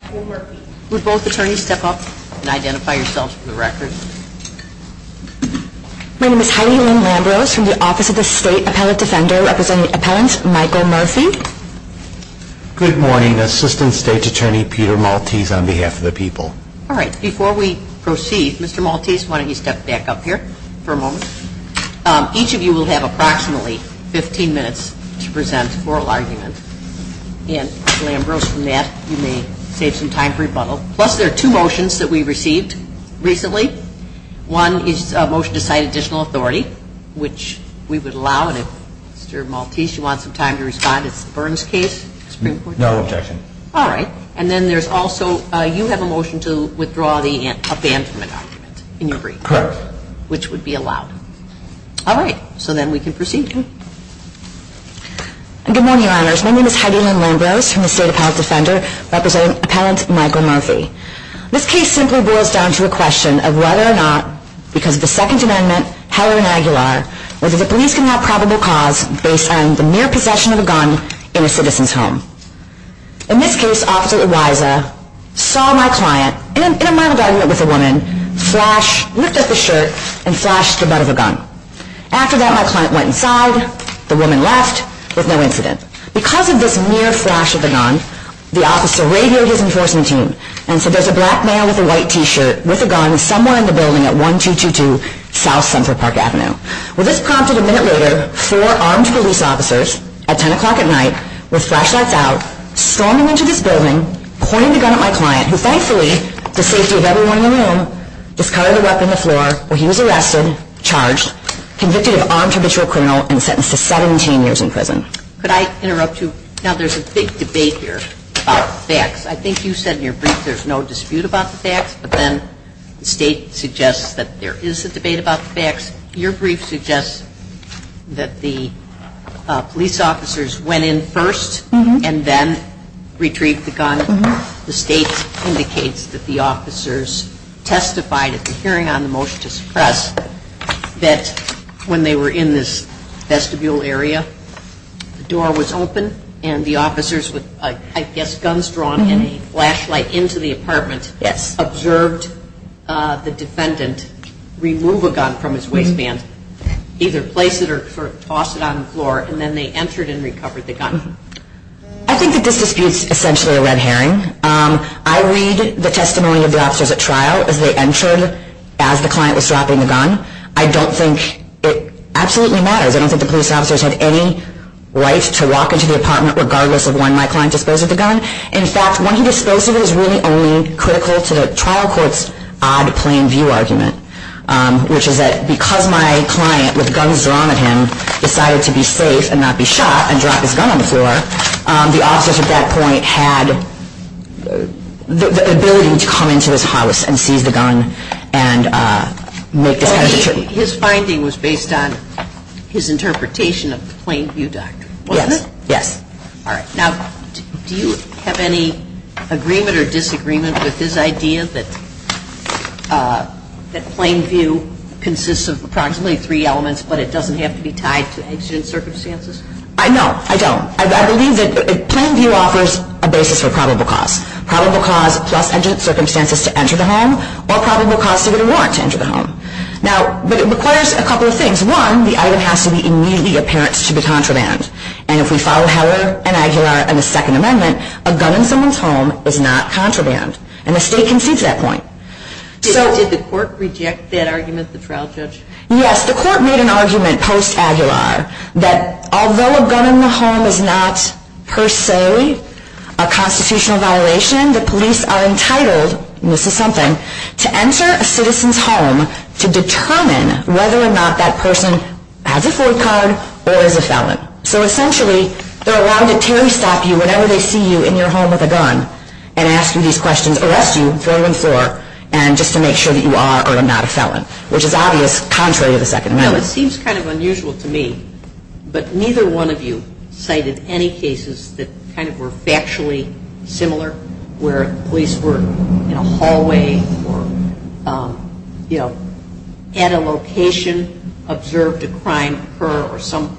Good morning, Assistant State Attorney Peter Maltese on behalf of the people. Alright, before we proceed, Mr. Maltese, why don't you step back up here for a moment. Each of you will have approximately 15 minutes to present oral arguments. And, Mr. Ambrose and Matt, you may take some time for rebuttal. Plus, there are two motions that we received recently. One is a motion to cite additional authority, which we would allow, and if Mr. Maltese wants some time to respond, it's the Burns case? No objection. Alright, and then there's also, you have a motion to withdraw the advancement argument, can you agree? Correct. Which would be allowed. Alright, so then we can proceed. Good morning, Your Honors. My name is Heidi Ann Ambrose from the State Appellant's Offender, representing Appellant Michael Murphy. This case simply boils down to the question of whether or not, because of the Second Amendment, Heller and Aguilar, whether the police can have probable cause based on the mere possession of a gun in a citizen's home. In this case, Officer Eliza saw my client, in a mild argument with a woman, flash, looked at the shirt, and flashed the bed of a gun. After that, my client went inside, the woman left with no incident. Because of this mere flash of a gun, the officer radioed his enforcement team and said there's a black man with a white t-shirt with a gun somewhere in the building at 1222 South Central Park Avenue. Well, this prompted a minute later, four armed police officers, at 10 o'clock at night, with flashlights out, storming into this building, pointing the gun at my client, who thankfully, for the safety of everyone in the room, discarded the weapon on the floor where he was arrested, charged, convicted of armed habitual criminal, and sentenced to 17 years in prison. Could I interrupt you? Now, there's a big debate here about facts. I think you said in your brief there's no dispute about the facts, but then the state suggests that there is a debate about the facts. Your brief suggests that the police officers went in first, and then retrieved the gun. The state indicates that the officers testified at the hearing on the motion to suppress, that when they were in this vestibule area, the door was open, and the officers had guns drawn and a flashlight into the apartment, observed the defendant remove a gun from his waistband, either place it or toss it on the floor, and then they entered and recovered the gun. I think that this dispute is essentially a red herring. I read the testimony of the officers at trial as they entered, as the client was dropping the gun. I don't think it absolutely matters. I don't think the police officers had any right to walk into the apartment, regardless of when my client disposed of the gun. In fact, when he disposed of it, it was really a critical to the trial court's odd plain view argument, which is that because my client, with guns drawn at him, decided to be safe and not be shot, and drop his gun on the floor, the officers at that point had the ability to come into his house and seize the gun and make the sentencing. So his finding was based on his interpretation of the plain view doctrine, wasn't it? Yes. All right. Now, do you have any agreement or disagreement with his idea that plain view consists of approximately three elements, but it doesn't have to be tied to incident circumstances? No, I don't. I believe that plain view offers a basis for probable cause. Probable cause plus incident circumstances to enter the home, or probable cause to get a warrant to enter the home. But it requires a couple of things. One, the item has to be immediately apparent to the contraband. And if we follow Heller and Aguilar and the Second Amendment, a gun in someone's home is not contraband. And the state can see to that point. Did the court reject that argument at the trial judge? Yes. The court made an argument post-Aguilar that although a gun in the home is not per se a constitutional violation, the police are entitled, and this is something, to enter a citizen's home to determine whether or not that person has a code card or is a felon. So essentially, they're allowed to turnstock you whenever they see you in your home with a gun and ask you these questions, arrest you, throw you in the floor, just to make sure that you are or are not a felon, which is obvious contrary to the Second Amendment. It seems kind of unusual to me, but neither one of you cited any cases that kind of were factually similar, where police were in a hallway or, you know, at a location, observed a crime occur or some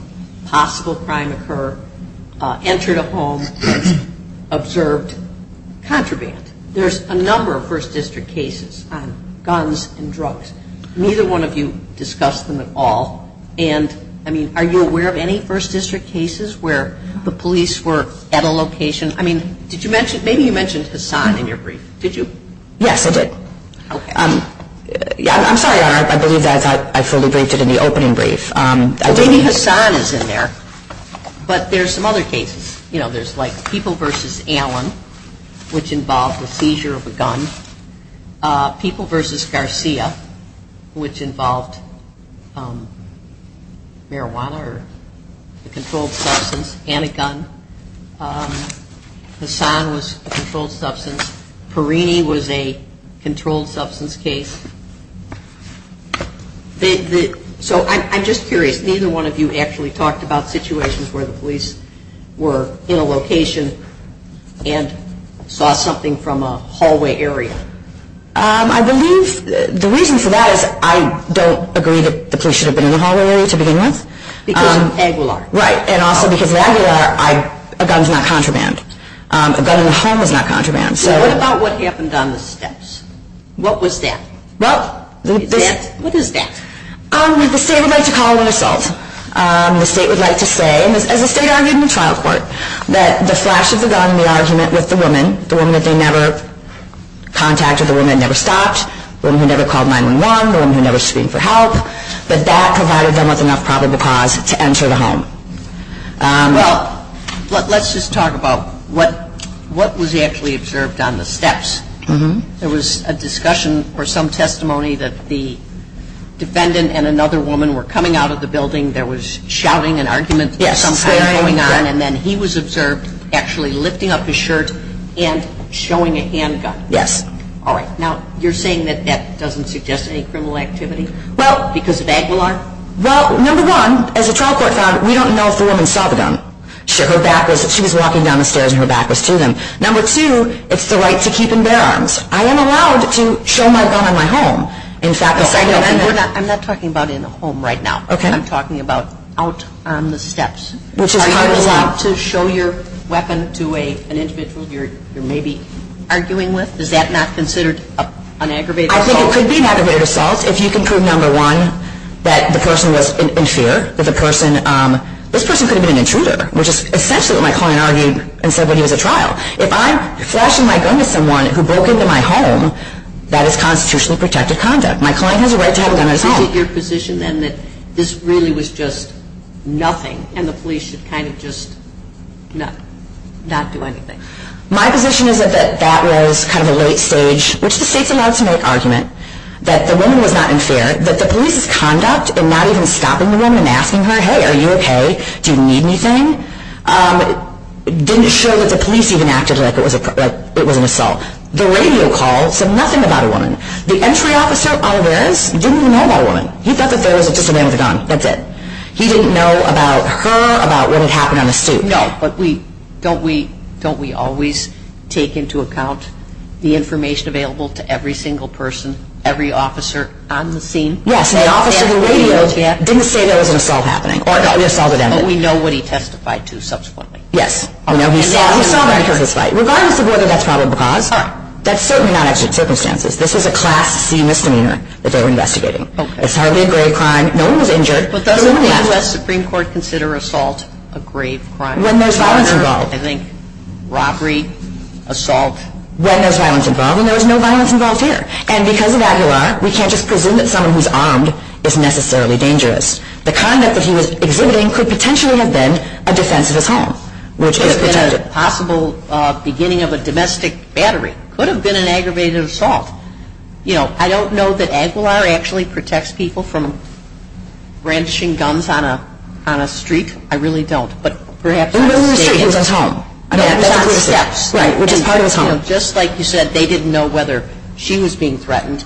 possible crime occur, entered a home, observed contraband. There's a number of First District cases on guns and drugs. Neither one of you discussed them at all. And, I mean, are you aware of any First District cases where the police were at a location? I mean, did you mention, maybe you mentioned Hassan in your brief. Did you? Yes, I did. Okay. Yeah, I'm sorry, Your Honor. I believe that I fully briefed it in the opening brief. Maybe Hassan is in there, but there's some other cases. You know, there's like People v. Allen, which involved the seizure of a gun. People v. Garcia, which involved marijuana or a controlled substance and a gun. Hassan was a controlled substance. Perrini was a controlled substance case. So, I'm just curious. Neither one of you actually talked about situations where the police were in a location and saw something from a hallway area. I believe the reason for that is I don't agree that the police should have been in a hallway area to begin with. Because of the angle of it. Right. And also because of the angle of it, a gun is not contraband. A gun in a home is not contraband. What about what happened on the fence? What was that? Well. What is that? The state would like to call this home. The state would like to say, and the state argued in the trial court, that the flashes of the gun in the argument with the woman, the woman that they never contacted, the woman that never stopped, the woman who never called 911, the woman who never screamed for help, that that provided them with enough probable cause to enter the home. Well, let's just talk about what was actually observed on the fence. There was a discussion or some testimony that the defendant and another woman were coming out of the building. There was shouting and argument. Yes. And then he was observed actually lifting up his shirt and showing a handgun. Yes. All right. Now, you're saying that that doesn't suggest any criminal activity because of Aguilar? Well, number one, as a trial court found, we don't know if the woman saw the gun. She was walking down the stairs and her back was seen. Number two, it's the right to keep and bear arms. I am allowed to show my gun in my home. I'm not talking about in the home right now. I'm talking about out on the steps. Are you allowed to show your weapon to an individual you're maybe arguing with? Is that not considered an aggravated assault? I think it could be an aggravated assault if you can prove, number one, that the person was in fear of the person. This person could have been an intruder, which is essentially what my client argued and said when he was at trial. If I'm flashing my gun at someone who broke into my home, that is constitutionally protected conduct. My client has a right to have a gun in his home. Is it your position then that this really was just nothing and the police should kind of just not do anything? My position is that that was kind of a late stage, which the state's allowed to make argument, that the woman was not in fear, but the police's conduct in not even stopping the woman and asking her, Hey, are you okay? Do you need anything? Didn't show that the police even acted like it was an assault. The radio call said nothing about a woman. The entry officer, Oliveras, didn't know about a woman. He thought that there was just a man with a gun. That's it. He didn't know about her, about what had happened on the street. Don't we always take into account the information available to every single person, every officer on the scene? Yes, and the officer who radioed didn't say there was an assault happening, or that we assaulted him. And we know what he testified to subsequently. Yes. Regardless of whether that's probable cause, that's certainly not actual circumstances. This is a Class C misdemeanor that they're investigating. It's hardly a grave crime. No one was injured. But doesn't the U.S. Supreme Court consider assault a grave crime? When there's violence involved. I think robbery, assault. When there's violence involved, and there was no violence involved here. And because of Aguilar, we can't just presume that someone who's armed is necessarily dangerous. The conduct that he was exhibiting could potentially have been a defense of his home. It could have been a possible beginning of a domestic battery. It could have been an aggravated assault. You know, I don't know that Aguilar actually protects people from branching guns on a street. I really don't. We know he was treating them from home. Yes. Right, which is part of his home. You know, just like you said, they didn't know whether she was being threatened.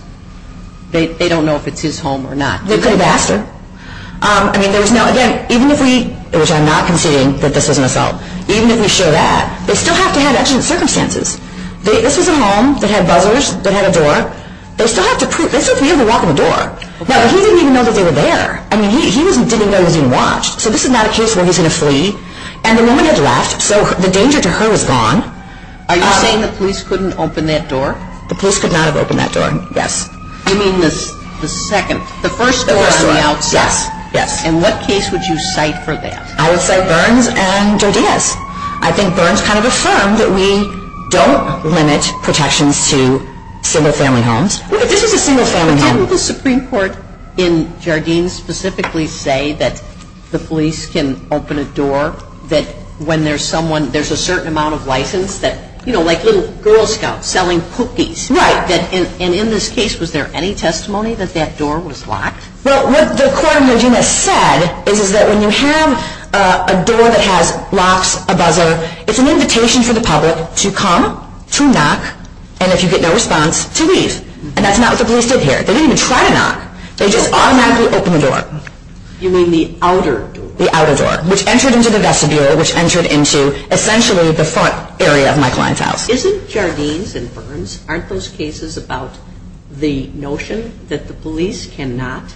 They don't know if it's his home or not. They couldn't have asked her. I mean, there was no, again, even if we, which I'm not conceding that this was an assault, even if we show that, they still have to have actual circumstances. This is a home that had bubblers that had a door. They still have to, this is near the lock of the door. Now, he didn't even know that they were there. I mean, he didn't know he was being watched. So this is not a case where he's going to flee. And the woman had left, so the danger to her was gone. Are you saying the police couldn't open that door? The police could not have opened that door. Yes. You mean the second? The first door, the one outside. Yes. And what case would you cite for that? I would cite Burns and Jardim. Yes. I think Burns kind of affirmed that we don't limit protections to single-family homes. This is a single-family home. Wouldn't the Supreme Court in Jardim specifically say that the police can open a door, that when there's someone, there's a certain amount of license, that, you know, like little Girl Scouts selling cookies. Right. And in this case, was there any testimony that that door was locked? Well, what the court in Jardim has said is that when you have a door that has locks above them, it's an invitation for the public to come, to knock, and if you get no response, to leave. And that's not what the police did here. They didn't even try to knock. They just automatically opened the door. You mean the outer door? The outer door. Which entered into the vestibule, which entered into essentially the front area of my client's house. Isn't Jardim and Burns, aren't those cases about the notion that the police cannot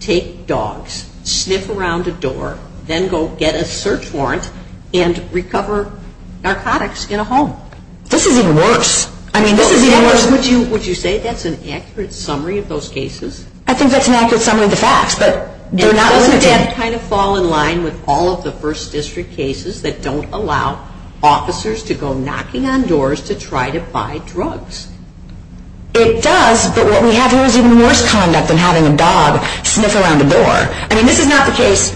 take dogs, sniff around the door, then go get a search warrant and recover narcotics in a home? This is even worse. I mean, this is even worse. Would you say that's an accurate summary of those cases? I think that's an accurate summary of the facts, but they're not limited. They kind of fall in line with all of the first district cases that don't allow officers to go knocking on doors to try to buy drugs. It does, but what we have here is even worse conduct than having a dog sniff around the door. I mean, this is not the case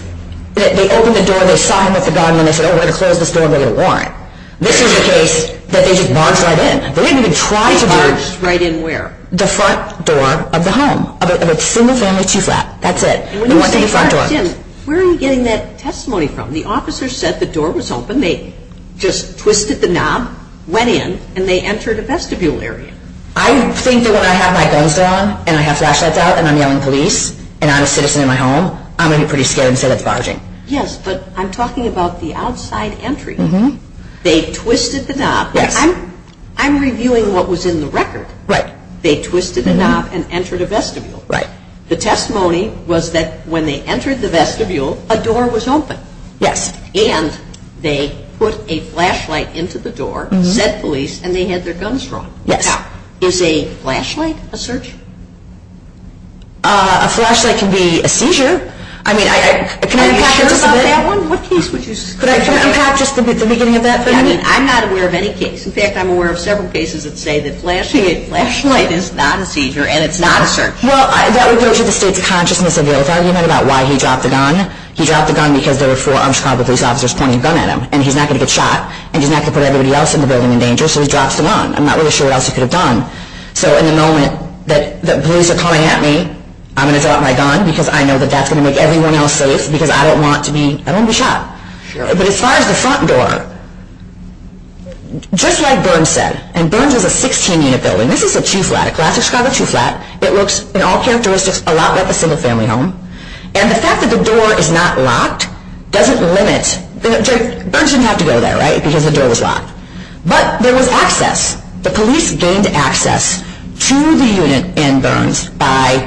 that they opened the door, they saw him at the door, and then they said, oh, we're going to close this door and get a warrant. This is the case that they just barged right in. They didn't even try to barge. Barged right in where? The front door of the home, of a single-family two-flat. That's it. Where are we getting that testimony from? The officer said the door was open, they just twisted the knob, went in, and they entered a vestibule area. I think that when I have my phones on and I have flashlights out and I'm yelling police and I'm a citizen in my home, I'm going to be pretty scared and say that's barging. Yes, but I'm talking about the outside entry. They twisted the knob. I'm reviewing what was in the record. They twisted the knob and entered a vestibule. Right. The testimony was that when they entered the vestibule, a door was open. Yes. And they put a flashlight into the door, said police, and they had their guns drawn. Yes. Now, is a flashlight a search? A flashlight can be a seizure. I mean, can I be sure about that one? What case would you say? Could I talk about just the beginning of that? I mean, I'm not aware of any case. In fact, I'm aware of several cases that say that flashing a flashlight is not a seizure and it's not a search. Well, that would go to the state of consciousness of the officer. Do you know about why he dropped the gun? He dropped the gun because there were four armed Chicago police officers pointing a gun at him and he's not going to get shot and he's not going to put everybody else in the building in danger, so he drops the gun. I'm not really sure what else he could have done. So in the moment that police are coming at me, I'm going to throw out my gun because I know that that's going to make everyone else safe because I don't want to be shot. But as far as the front door, just like Burns says, and Burns is a 16-unit building. This is a two-flat, a classic Chicago two-flat. It looks in all characteristics a lot like a single-family home. And the fact that the door is not locked doesn't limit. Burns didn't have to go there, right, because the door was locked. But there was access. The police gained access to the unit in Burns by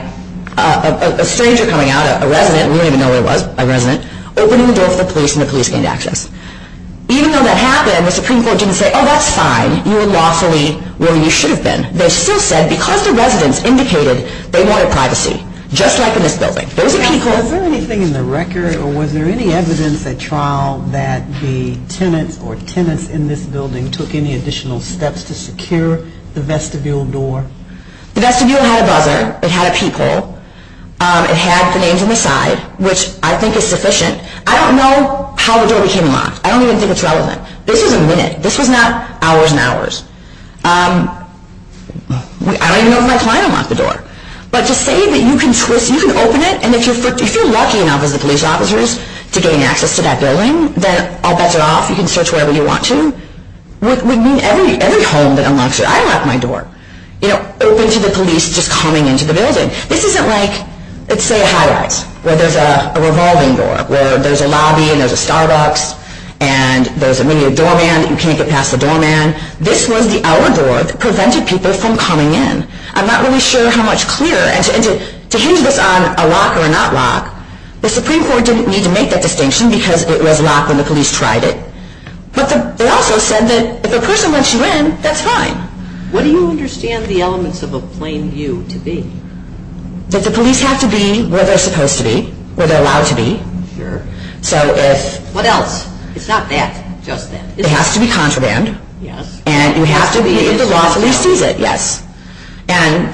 a stranger coming out, a resident. We don't even know who it was, a resident, opening the door for police, and the police gained access. Even though that happened, the Supreme Court didn't say, oh, that's fine. You were lawfully where you should have been. They still said, because the residents indicated they wanted privacy, just like in this building. Was there anything in the record, or was there any evidence at trial, that the tenant or tenants in this building took any additional steps to secure the vestibule door? The vestibule had other. It had a peephole. It had the names and the size, which I think is sufficient. I don't know how the door became locked. I don't even think it's relevant. This is a minute. This is not hours and hours. I don't even know if that's why it unlocked the door. But to say that you can twist, you can open it, and if you're lucky enough as a police officer to gain access to that building, then I'll bust it off. You can search wherever you want to. It would mean every home that unlocks it. I unlocked my door. You know, open to the police just coming into the building. This isn't like, let's say, Highlights, where there's a revolving door, where there's a lobby and there's a Starbucks, and when you're a doorman, you can't get past the doorman. This was the hour door that prevented people from coming in. I'm not really sure how much clearer. To use this on a lock or a not lock, the Supreme Court didn't need to make that distinction because it was locked when the police tried it. But they also said that if a person lets you in, that's fine. What do you understand the elements of a plain view to be? That the police have to be where they're supposed to be, where they're allowed to be. What else? It's not that. It has to be contraband. And you have to be in the lock when you see it, yes. And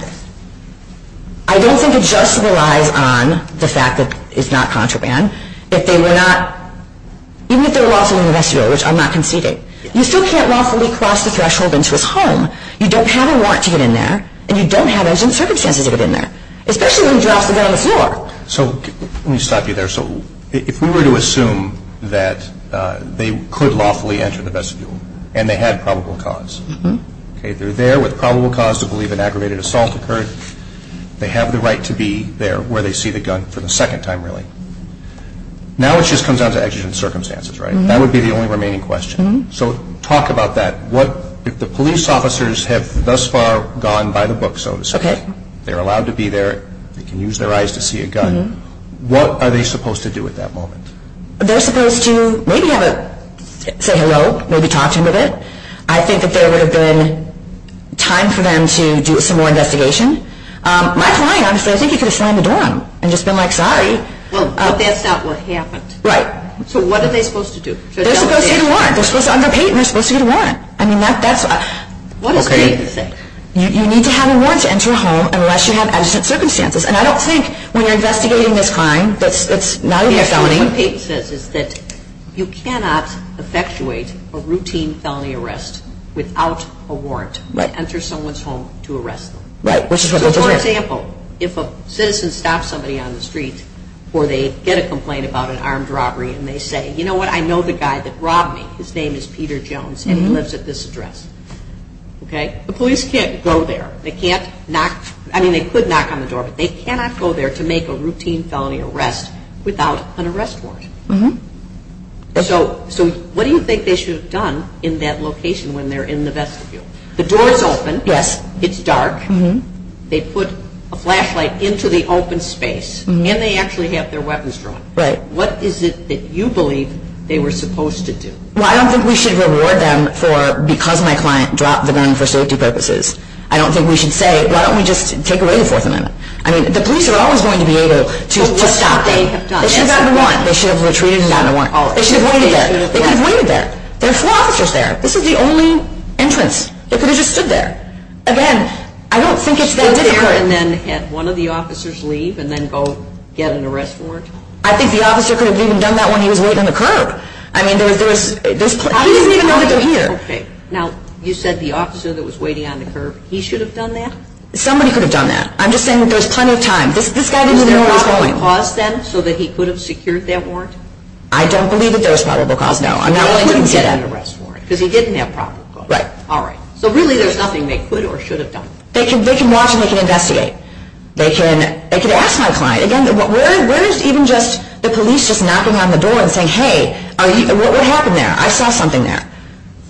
I don't think it just relied on the fact that it's not contraband. If they were not... Even if they were locked in the rest of the door, which I'm not conceding. You still can't walk fully across the threshold into a home. You don't have a lock to get in there, and you don't have engine circuits to get it in there. Especially when you drop it down the floor. Let me stop you there. If we were to assume that they could lawfully enter the vestibule, and they had probable cause. They're there with probable cause to believe an aggravated assault occurred. They have the right to be there where they see the gun for the second time, really. Now it just comes down to actual circumstances, right? That would be the only remaining question. So talk about that. The police officers have thus far gone by the book, so to speak. They're allowed to be there. They can use their eyes to see a gun. What are they supposed to do at that moment? They're supposed to maybe have a... Say hello. Maybe talk to them a bit. I think that there would have been time for them to do some more investigation. My client, honestly, I think he could have slammed the door on them and just been like, sorry. So what are they supposed to do? They're supposed to get a warrant. They're supposed to underpay, and they're supposed to get a warrant. I mean, that's us. What a crazy thing. You need to have a warrant to enter a home unless you have adjusted circumstances. And I don't think when you're investigating this kind that's not a felony. What Peyton says is that you cannot effectuate a routine felony arrest without a warrant to enter someone's home to arrest them. For example, if a citizen stops somebody on the street or they get a complaint about an armed robbery and they say, you know what, I know the guy that robbed me. His name is Peter Jones, and he lives at this address. Okay? The police can't go there. They can't knock. I mean, they could knock on the door, but they cannot go there to make a routine felony arrest without an arrest warrant. So what do you think they should have done in that location when they're in the vestibule? The door is open. Yes. It's dark. They put a flashlight into the open space. And they actually have their weapons drawn. Right. What is it that you believe they were supposed to do? Well, I don't think we should reward them for, because my client dropped the gun for safety purposes. I don't think we should say, why don't we just take away the fourth amendment? I mean, the police are always going to be able to stop them. They should have gotten a warrant. They should have retreated and gotten a warrant. They should have waited there. They could have waited there. There are four officers there. This is the only entrance. They could have just stood there. Again, I don't think it's that different. Should they have had one of the officers leave and then go get an arrest warrant? I think the officer could have even done that when he was waiting on the curb. I mean, there's plenty of people here. Okay. Now, you said the officer that was waiting on the curb. He should have done that? Somebody could have done that. I'm just saying there's plenty of time. This guy didn't even know where he was going. Do you think they're going to cause them so that he could have secured that warrant? I don't believe that there's probable cause, no. He wouldn't get an arrest warrant because he didn't have probable cause. Right. All right. So, really, there's nothing they could or should have done. They can walk in. They can investigate. They can ask my client. Again, where is even just the police just knocking on the door and saying, hey, what happened there? I saw something there.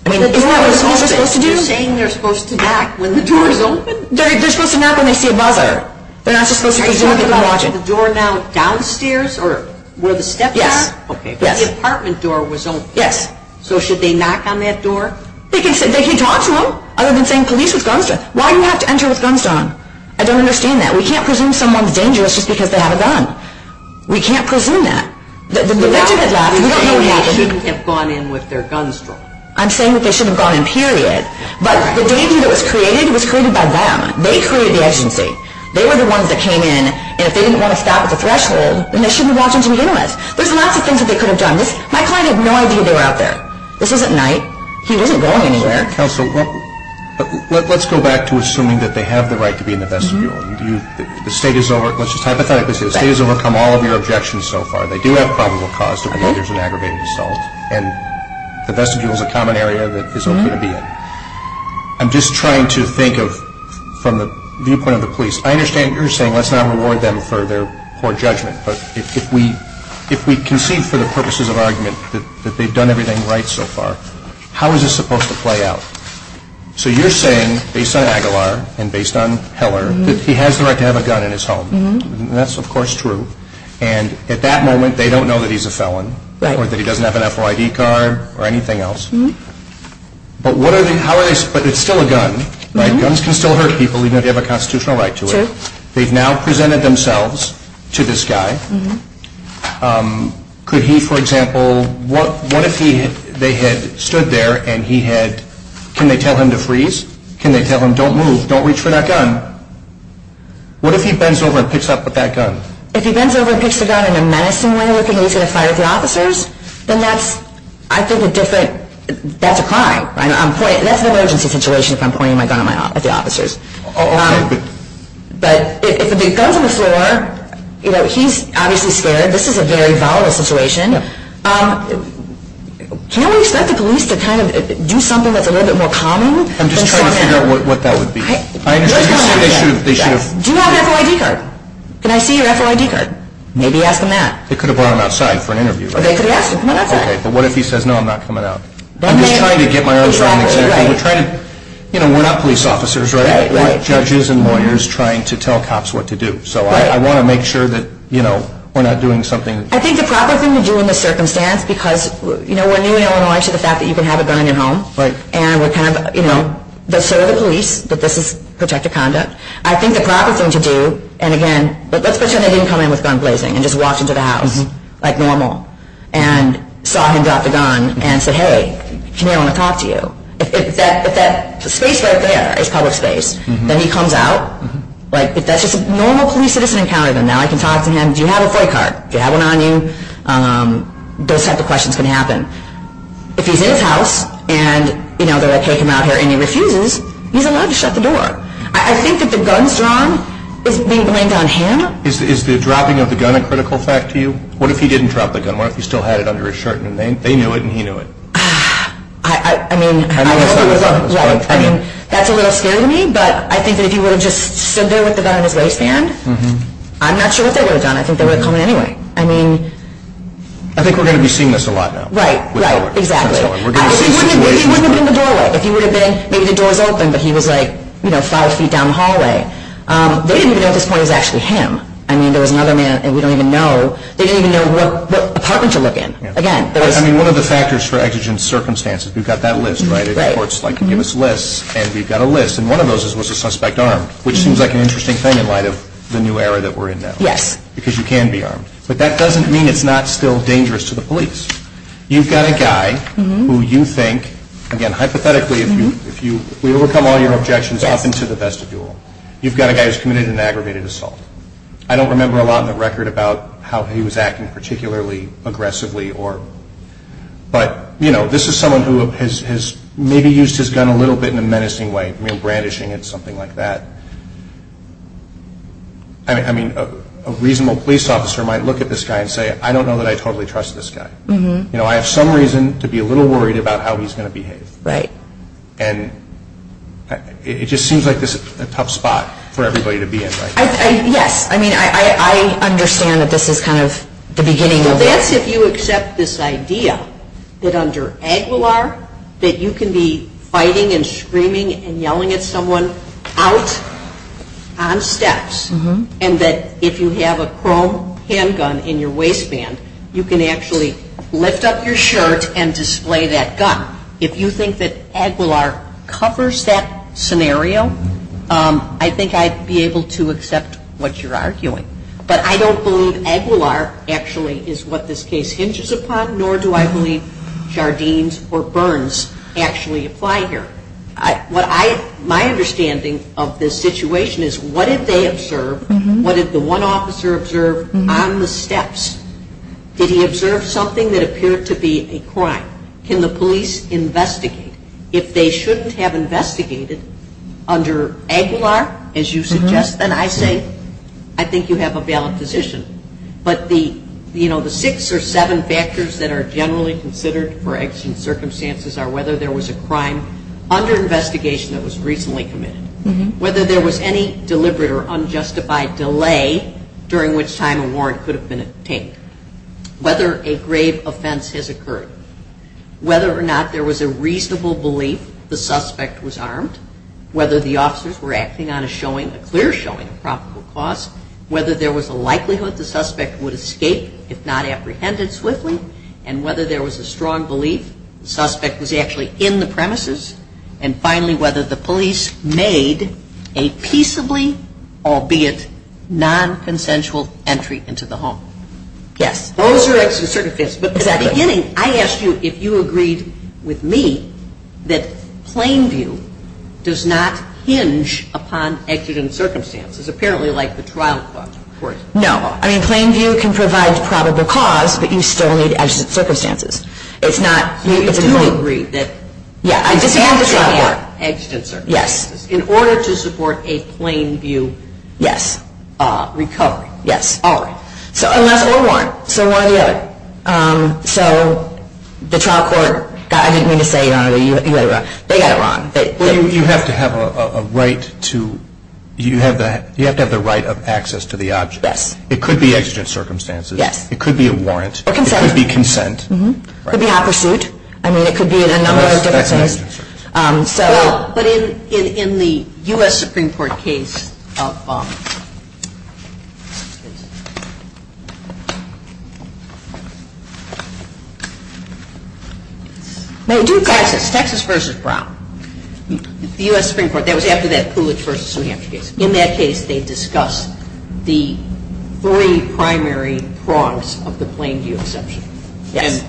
I mean, you know what they're supposed to do? You're saying they're supposed to knock when the door is open? They're supposed to knock when they see a mother. They're not supposed to continue watching. The door now downstairs or where the steps are? Yeah. Okay. Where the apartment door was open. Yes. So, should they knock on that door? They can talk to them other than saying, police, what's going on? Why do you have to enter with guns on? I don't understand that. We can't presume someone's dangerous just because they have a gun. We can't presume that. The best that they can do is get gone in with their guns. I'm saying that they should have gone in, period. But the danger that was created was created by them. They created the emergency. They were the ones that came in, and if they didn't want to stop at the threshold, then they shouldn't have walked into the office. There's lots of things that they could have done. My client has no idea they're out there. This isn't nice. He isn't going anywhere. But let's go back to assuming that they have the right to be in the best view. The state has overcome all of your objections so far. They do have probable cause to be used in aggravated assault, and the best view is a common area that is okay to be in. I'm just trying to think from the viewpoint of the police. I understand what you're saying. Let's not reward them for their poor judgment. But if we concede for the purposes of argument that they've done everything right so far, how is this supposed to play out? So you're saying, based on Aguilar and based on Heller, that he has the right to have a gun in his home. That's, of course, true. And at that moment, they don't know that he's a felon or that he doesn't have an FOID card or anything else. But it's still a gun. Guns can still hurt people even if they have a constitutional right to it. They've now presented themselves to this guy. Could he, for example, what if they had stood there and he had, can they tell him to freeze? Can they tell him, don't move, don't reach for that gun? What if he bends over and picks up the gun? If he bends over and picks up the gun in a menacing way, looking to reach for the fire of the officers, then that's, I think, a different, that's a crime. That's an emergency situation if I'm pointing my gun at the officers. But if the guy with the flare, you know, he's obviously scared. This is a very volatile situation. Can I expect the police to kind of do something that's a little bit more calming? I'm just trying to figure out what that would be. Do you have your FOID card? Can I see your FOID card? Maybe ask them that. They could have brought him outside for an interview, right? They could have asked him. Okay, but what if he says, no, I'm not coming out? I'm just trying to get my own strong example. You know, we're not police officers, right? We're not judges and lawyers trying to tell cops what to do. So I want to make sure that, you know, we're not doing something. I think the proper thing to do in this circumstance, because, you know, we're new in Illinois to the fact that you can have a gun in your home. Right. And we're kind of, you know, let's show the police that this is protective conduct. I think the proper thing to do, and again, let's pretend that he didn't come in with gun blazing and just walked into the house like normal and saw him drop the gun and said, hey, may I want to talk to you? If that space right there is public space, then he comes out. Like, if that's just a normal police citizen encounter, then now I can talk to him. Do you have a FOID card? Do you have one on you? Those types of questions can happen. If he's in his house and, you know, they're going to take him out here and he refuses, he's allowed to shut the door. I think if the gun's drawn, is being blamed on him? Is the dropping of the gun a critical fact to you? What if he didn't drop the gun? What if he still had it under his shirt and they knew it and he knew it? I mean, that's a little scary to me, but I think if he would have just stood there with the gun in his waistband, I'm not sure what they would have done. I think they would have come in anyway. I mean... I think we're going to be seeing this a lot now. Right, right, exactly. He wouldn't have been in the doorway. If he would have been, maybe the door was open, but he was like, you know, five feet down the hallway. They didn't even know at this point it was actually him. I mean, there was another man and we don't even know. They didn't even know what apartment to look in. I mean, one of the factors for exigent circumstances, we've got that list, right? The courts give us lists and we've got a list, and one of those was a suspect armed, which seems like an interesting thing in light of the new era that we're in now. Yes. Because you can be armed. But that doesn't mean it's not still dangerous to the police. You've got a guy who you think, again, hypothetically, if you overcome all your objections up until the vestibule, you've got a guy who's committed an aggravated assault. I don't remember a lot in the record about how he was acting, particularly aggressively. But, you know, this is someone who has maybe used his gun a little bit in a menacing way, brandishing it, something like that. I mean, a reasonable police officer might look at this guy and say, I don't know that I totally trust this guy. You know, I have some reason to be a little worried about how he's going to behave. Right. And it just seems like this is a tough spot for everybody to be in. Yes. I mean, I understand that this is kind of the beginning of it. What if you accept this idea that under Aguilar, that you can be fighting and screaming and yelling at someone out on steps, and that if you have a chrome handgun in your waistband, you can actually lift up your shirt and display that gun. If you think that Aguilar covers that scenario, I think I'd be able to accept what you're arguing. But I don't believe Aguilar actually is what this case hinges upon, nor do I believe Jardines or Burns actually apply here. My understanding of the situation is, what did they observe? What did the one officer observe on the steps? Did he observe something that appeared to be a crime? Can the police investigate? If they shouldn't have investigated under Aguilar, as you suggest and I say, I think you have a valid position. But the six or seven factors that are generally considered for extreme circumstances are whether there was a crime under investigation that was recently committed, whether there was any deliberate or unjustified delay during which time a warrant could have been obtained, whether a grave offense has occurred, whether or not there was a reasonable belief the suspect was armed, whether the officers were acting on a clear showing of probable cause, whether there was a likelihood the suspect would escape if not apprehended swiftly, and whether there was a strong belief the suspect was actually in the premises, and finally, whether the police made a peaceably, albeit non-consensual, entry into the home. Yes. Those are extant circumstances. But at the beginning, I asked you if you agreed with me that plain view does not hinge upon extant circumstances, apparently like the trial court, for instance. No. I mean, plain view can provide probable cause, but you still need extant circumstances. It's not. So you agree that it's extant circumstances in order to support a plain view. Yes. Recovery. Yes. All right. So a warrant. So one or the other. So the trial court, I didn't mean to say, you know, whatever. They got it wrong. You have to have a right of access to the object. Right. It could be extant circumstances. Yes. It could be a warrant. A consent. It could be consent. It could be a high pursuit. I mean, it could be a number of different things. That's not extant circumstances. But in the U.S. Supreme Court case, Texas v. Brown, the U.S. Supreme Court, that was after that Coolidge v. New Hampshire case. In that case, they discussed the three primary wrongs of the plain view exemption. Yes.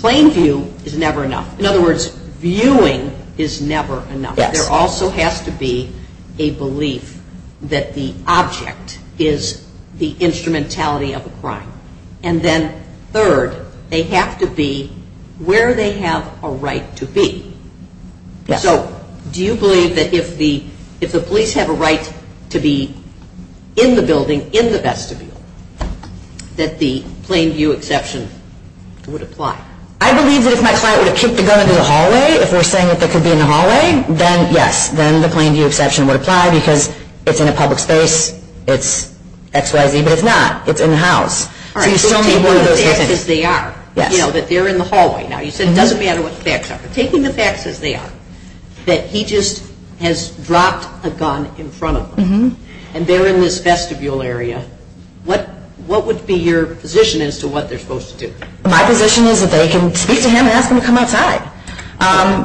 In other words, viewing is never enough. Yes. There also has to be a belief that the object is the instrumentality of the crime. And then third, they have to be where they have a right to be. Yes. So do you believe that if the police have a right to be in the building, in the vestibule, that the plain view exemption would apply? I believe that if my client would have kicked a gun into the hallway, if we're saying that they could be in the hallway, then yes. Then the plain view exception would apply because it's in a public space. It's X, Y, Z. But it's not. It's in the house. All right. Just take the facts as they are. Yes. You know, that they're in the hallway now. You said it doesn't matter what the facts are. But taking the facts as they are, that he just has dropped a gun in front of them, and they're in this vestibule area, what would be your position as to what they're supposed to do? My position is that they can speak to him and ask him to come outside.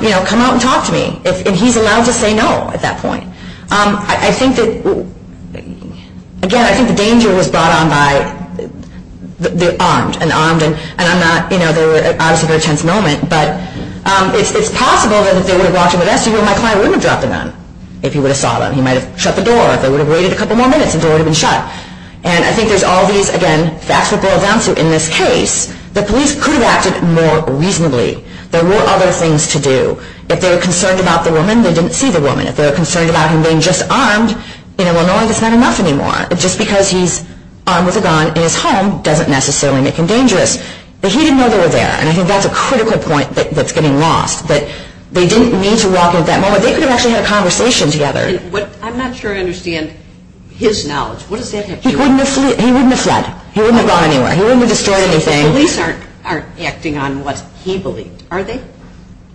You know, come out and talk to me. And he's allowed to say no at that point. I think that, again, I think the danger was brought on by the armed, and armed and I'm not, you know, they were obviously in a tense moment. But it's possible that if they would have brought him to the vestibule, my client would have dropped a gun if he would have saw them. He might have shut the door. They would have waited a couple more minutes to go ahead and shut it. And I think there's all these, again, facts that go around in this case. The police could have acted more reasonably. There were other things to do. If they were concerned about the woman, they didn't see the woman. If they were concerned about him being just armed, you know, well, no, that's not enough anymore. Just because he's armed with a gun in his home doesn't necessarily make him dangerous. But he didn't know they were there, and I think that's a critical point that's getting lost. But they didn't need to walk in at that moment. They could have actually had a conversation together. I'm not sure I understand his knowledge. He wouldn't have fled. He wouldn't have gone anywhere. He wouldn't have discarded anything. Police aren't acting on what he believes, are they?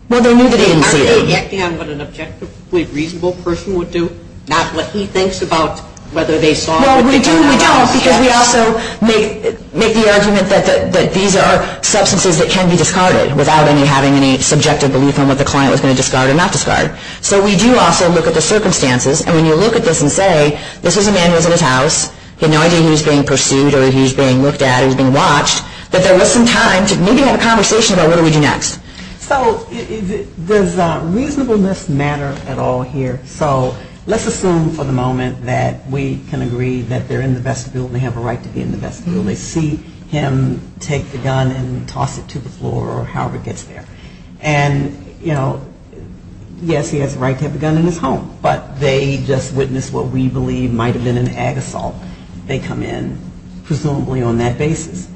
Well, they need to be. Are they acting on what an objectively reasonable person would do, not what he thinks about whether they saw or didn't? Well, we do, because we also make the argument that these are substances that can be discarded without having any subjective belief on what the client was going to discard or not discard. So we do also look at the circumstances. And when you look at this and say, this is a man who was in his house, he had no idea he was being pursued or he was being looked at, he was being watched, that there was some time to maybe have a conversation about what do we do next. So does reasonableness matter at all here? So let's assume for the moment that we can agree that they're in the vestibule and they have a right to be in the vestibule. They see him take the gun and toss it to the floor or however it gets there. And, you know, yes, he has the right to have the gun in his home, but they just witnessed what we believe might have been an ag assault. They come in presumably on that basis.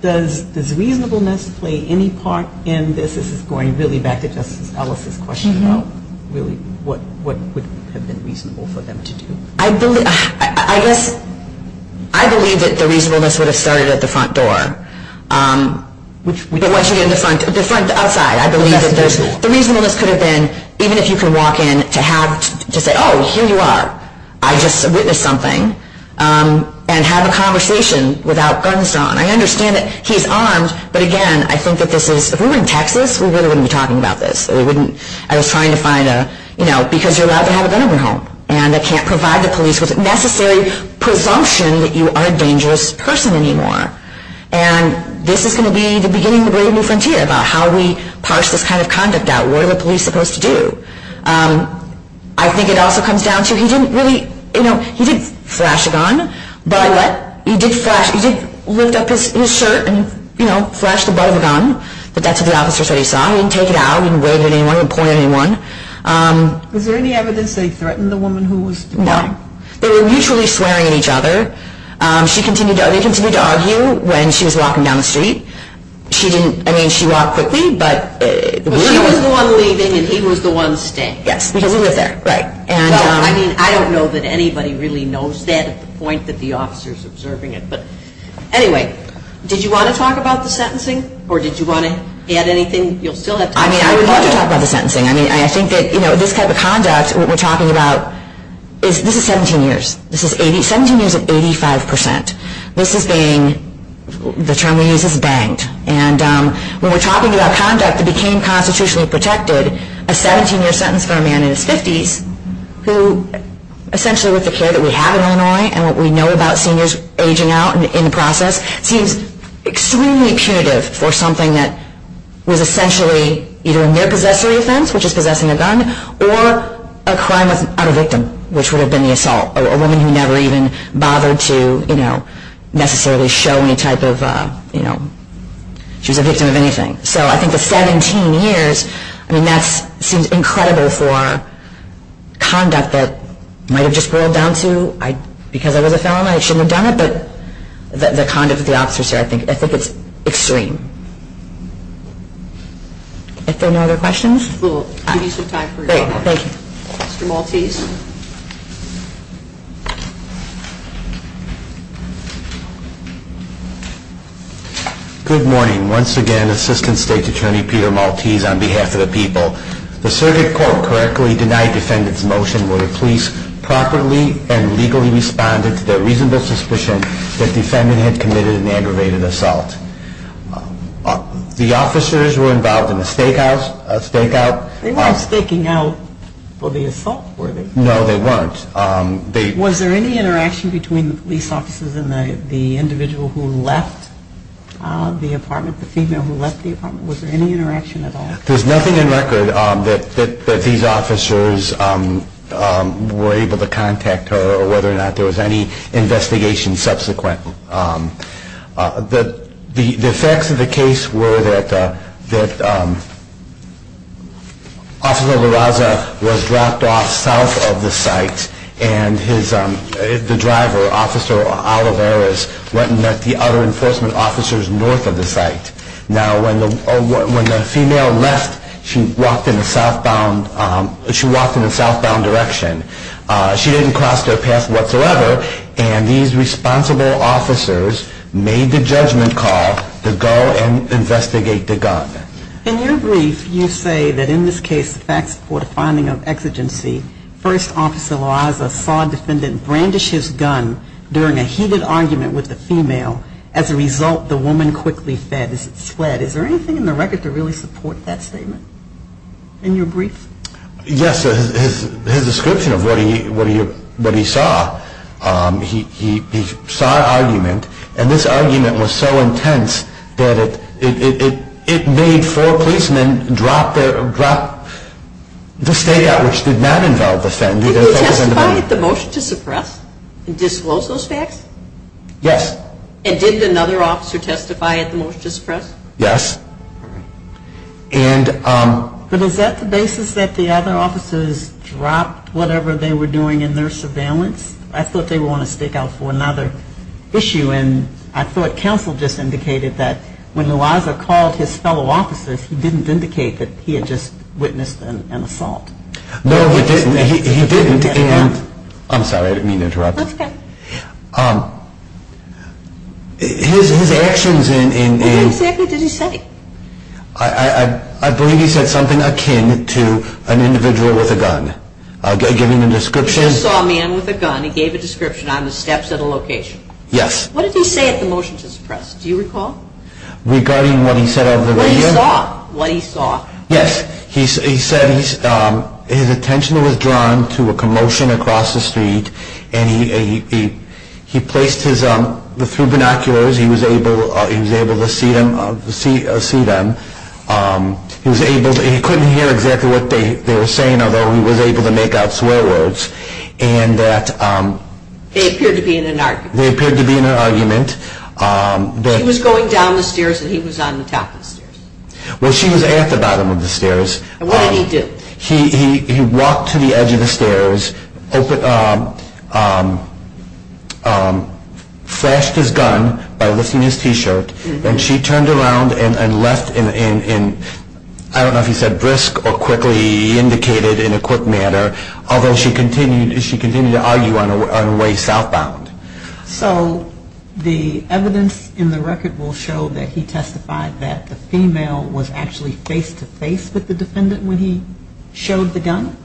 Does reasonableness play any part in this? This is going really back to Justice Ellis' question about really what would have been reasonable for them to do. I believe that the reasonableness would have started at the front door. The front outside, I believe. The reasonableness could have been even if you could walk in to say, oh, here you are, I just witnessed something, and have a conversation without guns on. I understand that he's armed, but, again, I think that this is, if we were in Texas, we really wouldn't be talking about this. I was trying to find a, you know, because you're allowed to have a gun in your home and I can't provide the police with a necessary presumption that you are a dangerous person anymore. And this is going to be the beginning of the great new frontier about how we parse this kind of conduct out. What are the police supposed to do? I think it also comes down to he didn't really, you know, he did flash the gun, but he did lift up his shirt and, you know, flash the butt of the gun, but that's what the officers already saw. He didn't take it out. He didn't wave it at anyone or point at anyone. Was there any evidence they threatened the woman who was doing it? No. They were mutually swearing at each other. They continued to argue when she was walking down the street. She didn't, I mean, she walked quickly, but we were there. She was the one leaving and he was the one staying. Yes, we were there. Right. I don't know that anybody really knows that at the point that the officer is observing it. But, anyway, did you want to talk about the sentencing or did you want to add anything? You'll still have time. I would like to talk about the sentencing. I mean, I think that, you know, this type of conduct we're talking about, this is 17 years. Sentencing is at 85%. This is being, the term we use is banked. And when we're talking about conduct that became constitutionally protected, a 17-year sentence for a man in his 50s who essentially with the care that we have in Illinois and what we know about seniors aging out in the process, seems extremely punitive for something that was essentially either in their possessory sense, which is possessing a gun, or a crime of a victim, which would have been the assault. A woman who never even bothered to, you know, necessarily show any type of, you know, she's a victim of anything. So, I think the 17 years, I mean, that seems incredible for conduct that might have just boiled down to, because of the felon, I shouldn't have done it, but the conduct of the officer, I think, I think it's extreme. Thank you. Are there any other questions? We'll give you some time for questions. Thank you. Mr. Maltese. Good morning. Once again, Assistant State's Attorney Peter Maltese on behalf of the people. The circuit court correctly denied defendant's motion when the police properly and legally responded to the reasonable suspicion that defendant had committed an aggravated assault. The officers were involved in a stakeout. They weren't staking out for the assault, were they? No, they weren't. Was there any interaction between these officers and the individual who left the apartment, the female who left the apartment? Was there any interaction at all? There's nothing in record that these officers were able to contact her or whether or not there was any investigation subsequent. The facts of the case were that Officer Villaja was dropped off south of the site and the driver, Officer Olivares, went and met the other enforcement officers north of the site. Now, when the female left, she walked in the southbound direction. She didn't cross their path whatsoever, and these responsible officers made the judgment call to go and investigate the gun. In your brief, you say that in this case, the facts were a finding of exigency. First, Officer Villajas saw defendant brandish his gun during a heated argument with the female. As a result, the woman quickly fled. Is there anything in the record that really supports that statement in your brief? Yes. His description of what he saw, he saw an argument, and this argument was so intense that it made four policemen drop the state out, which did not involve the defendant. Did he testify at the motion to suppress? Did he disclose those facts? Yes. And did another officer testify at the motion to suppress? Yes. But is that the basis that the other officers dropped whatever they were doing in their surveillance? I thought they wanted to stick out for another issue, and I thought counsel just indicated that when Villaja called his fellow officers, he didn't indicate that he had just witnessed an assault. No, he didn't. I'm sorry, I didn't mean to interrupt. That's okay. His actions in... What exactly did he say? I believe he said something akin to an individual with a gun. I gave him a description. He saw a man with a gun. He gave a description on the steps of the location. Yes. What did he say at the motion to suppress? Do you recall? Regarding what he said on the radio? What he saw. Yes. He said his attention was drawn to a commotion across the street, and he placed his binoculars. He was able to see them. He couldn't hear exactly what they were saying, although he was able to make out swear words. They appeared to be in an argument. They appeared to be in an argument. She was going down the stairs and he was on the top of the stairs. Well, she was at the bottom of the stairs. What did he do? He walked to the edge of the stairs, flashed his gun by lifting his T-shirt, and she turned around and left in, I don't know if he said brisk or quickly, he indicated in a quick manner, although she continued to argue on her way southbound. So the evidence in the record will show that he testified that the female was actually face-to-face with the defendant when he showed the gun?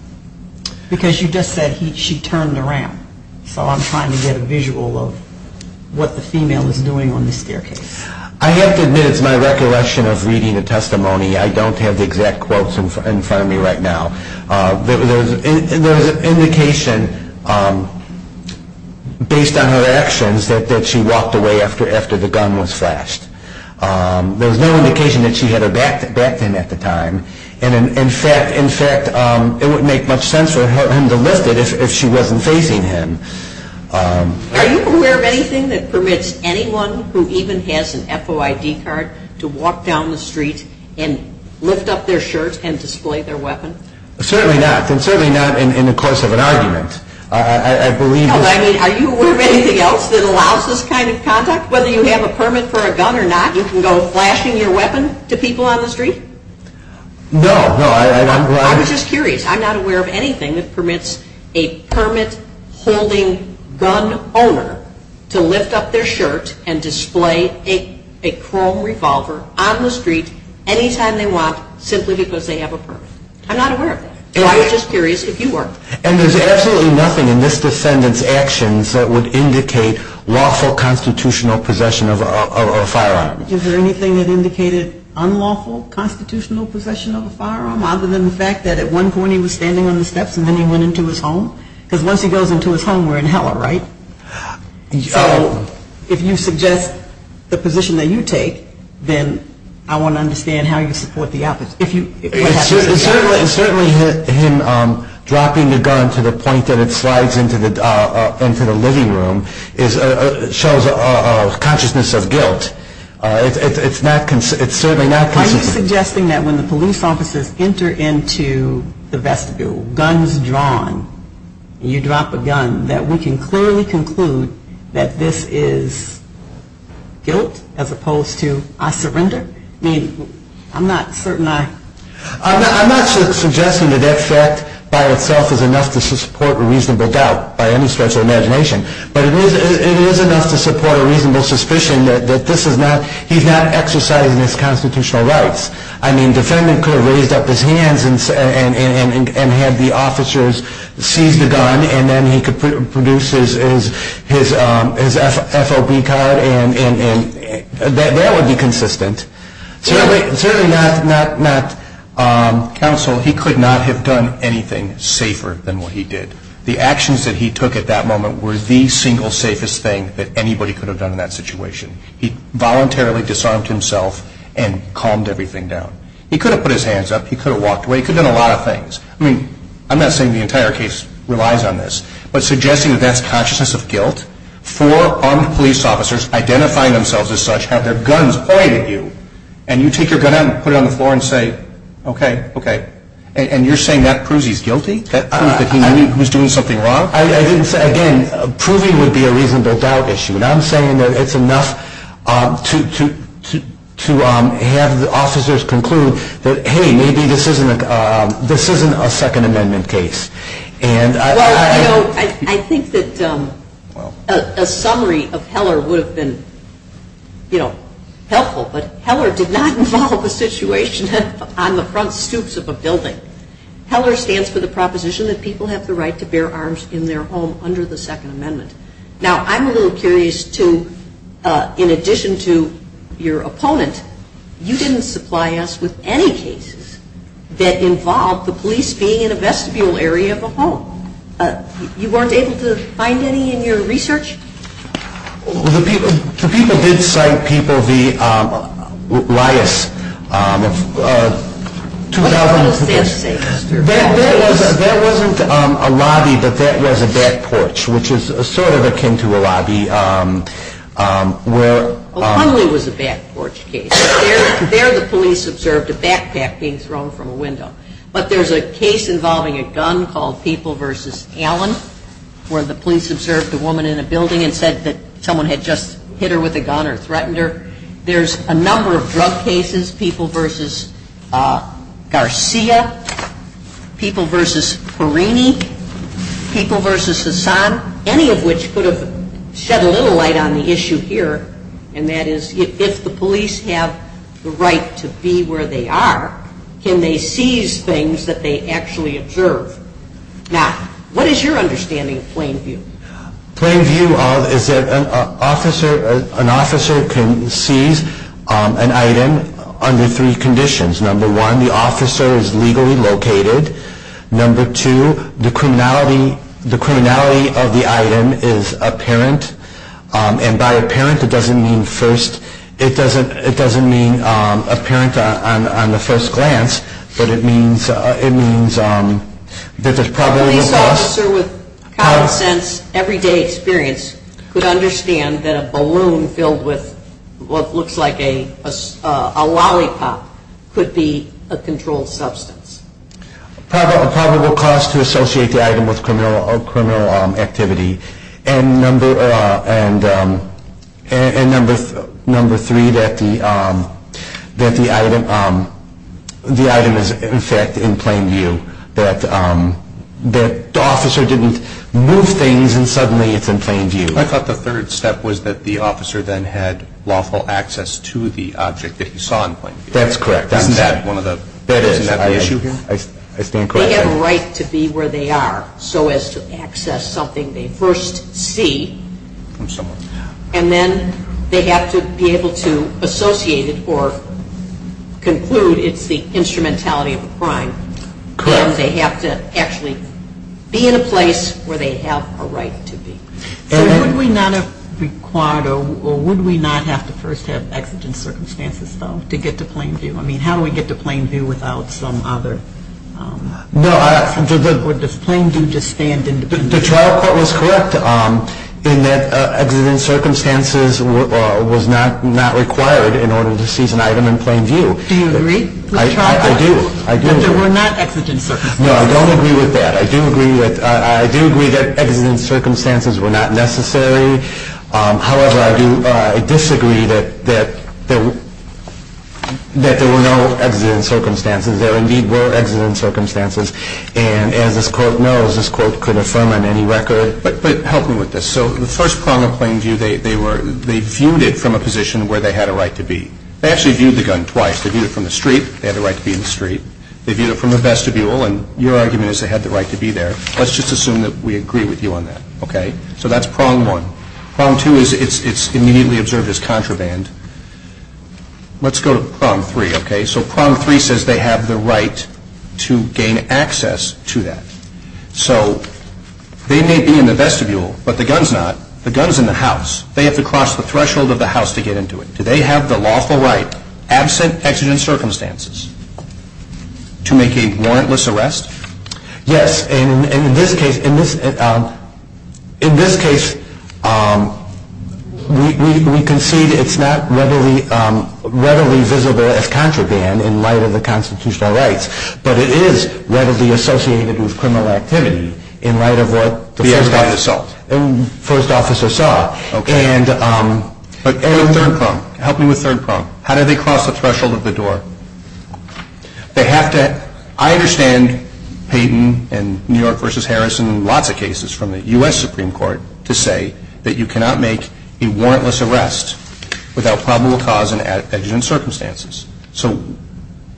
Because you just said she turned around. So I'm trying to get a visual of what the female was doing on the staircase. I have to admit it's my recollection of reading the testimony. I don't have the exact quotes in front of me right now. There was an indication based on her actions that she walked away after the gun was flashed. There was no indication that she had her back in at the time. In fact, it wouldn't make much sense for him to lift it if she wasn't facing him. Are you aware of anything that permits anyone who even has an FOID card to walk down the street and lift up their shirt and display their weapon? Certainly not. Certainly not in the course of an argument. Are you aware of anything else that allows this kind of conduct? Whether you have a permit for a gun or not, you can go flashing your weapon to people on the street? No. I'm just curious. I'm not aware of anything that permits a permit-holding gun owner to lift up their shirt and display a chrome revolver on the street anytime they want simply because they have a permit. I'm not aware of that. I'm just curious if you are. And there's absolutely nothing in this defendant's actions that would indicate lawful constitutional possession of a firearm. Is there anything that indicated unlawful constitutional possession of a firearm other than the fact that at one point he was standing on the steps and then he went into his home? Because once he goes into his home, we're in hell, right? So if you suggest the position that you take, then I want to understand how you support the opposite. Certainly him dropping the gun to the point that it slides into the living room shows a consciousness of guilt. It's certainly not consciousness. Are you suggesting that when the police officers enter into the vestibule, guns drawn, you drop a gun, that we can clearly conclude that this is guilt as opposed to I surrender? I mean, I'm not certain I... I'm not suggesting that this act by itself is enough to support a reasonable doubt by any stretch of imagination, but it is enough to support a reasonable suspicion that this is not... he's not exercising his constitutional rights. I mean, the defendant could have raised up his hands and had the officers seize the gun and then he could produce his FOB card and that would be consistent. Certainly not counsel. He could not have done anything safer than what he did. The actions that he took at that moment were the single safest thing that anybody could have done in that situation. He voluntarily disarmed himself and calmed everything down. He could have put his hands up, he could have walked away, he could have done a lot of things. I mean, I'm not saying the entire case relies on this, but suggesting that that's consciousness of guilt, four armed police officers identifying themselves as such have their guns pointed at you and you take your gun out and put it on the floor and say, okay, okay. And you're saying Matt Kruse is guilty? That he was doing something wrong? Again, proving would be a reasonable doubt issue, and I'm saying that it's enough to have the officers conclude that, hey, maybe this isn't a Second Amendment case. I think that a summary of Heller would have been helpful, but Heller did not involve a situation on the front suits of a building. Heller stands for the proposition that people have the right to bear arms in their home under the Second Amendment. Now, I'm a little curious, too, in addition to your opponent, you didn't supply us with any cases that involved the police being in a vestibule area of a home. You weren't able to find any in your research? Well, the people did cite people, the riots of 2010. That wasn't a lobby, but that was a back porch, which is sort of akin to a lobby. Well, Hunley was a back porch case. There the police observed a backpack being thrown from a window, but there's a case involving a gun called People v. Allen where the police observed a woman in a building and said that someone had just hit her with a gun or threatened her. There's a number of drug cases, People v. Garcia, People v. Perini, People v. Sasan, any of which could have shed a little light on the issue here, and that is if the police have the right to be where they are, can they seize things that they actually observe? Now, what is your understanding of plain view? Plain view is that an officer can seize an item under three conditions. Number one, the officer is legally located. Number two, the criminality of the item is apparent, and by apparent it doesn't mean apparent on the first glance, but it means that there's probably a cost. A police officer with common sense, everyday experience, could understand that a balloon filled with what looks like a lollipop could be a controlled substance. A probable cost to associate the item with criminal activity. And number three, that the item is in fact in plain view, that the officer didn't move things and suddenly it's in plain view. I thought the third step was that the officer then had lawful access to the object that he saw in plain view. That's correct. Is that the issue here? They have a right to be where they are so as to access something they first see, and then they have to be able to associate it or conclude it's the instrumentality of the crime. They have to actually be in a place where they have a right to be. Would we not have to first have exigent circumstances to get to plain view? No. Would this plain view just stand independent? The trial court was correct in that exigent circumstances was not required in order to see an item in plain view. Do you agree? I do. But there were not exigent circumstances. No, I don't agree with that. I do agree that exigent circumstances were not necessary. However, I do disagree that there were no exigent circumstances. There indeed were exigent circumstances, and as this court knows, this court could affirm on any record. But help me with this. So the first prong of plain view, they viewed it from a position where they had a right to be. They actually viewed the gun twice. They viewed it from the street. They had a right to be in the street. They viewed it from a vestibule, and your argument is they had the right to be there. Let's just assume that we agree with you on that, okay? So that's prong one. Prong two is it's immediately observed as contraband. Let's go to prong three, okay? So prong three says they have the right to gain access to that. So they may be in the vestibule, but the gun's not. The gun's in the house. They have to cross the threshold of the house to get into it. Do they have the lawful right, absent exigent circumstances, to make a warrantless arrest? Yes, and in this case, we concede it's not readily visible as contraband in light of the constitutional rights, but it is readily associated with criminal activity in light of what the first officer saw. Okay. And third prong, help me with third prong. How do they cross the threshold of the door? They have to – I understand Payden and New York v. Harrison, lots of cases from the U.S. Supreme Court, to say that you cannot make a warrantless arrest without probable cause and exigent circumstances. So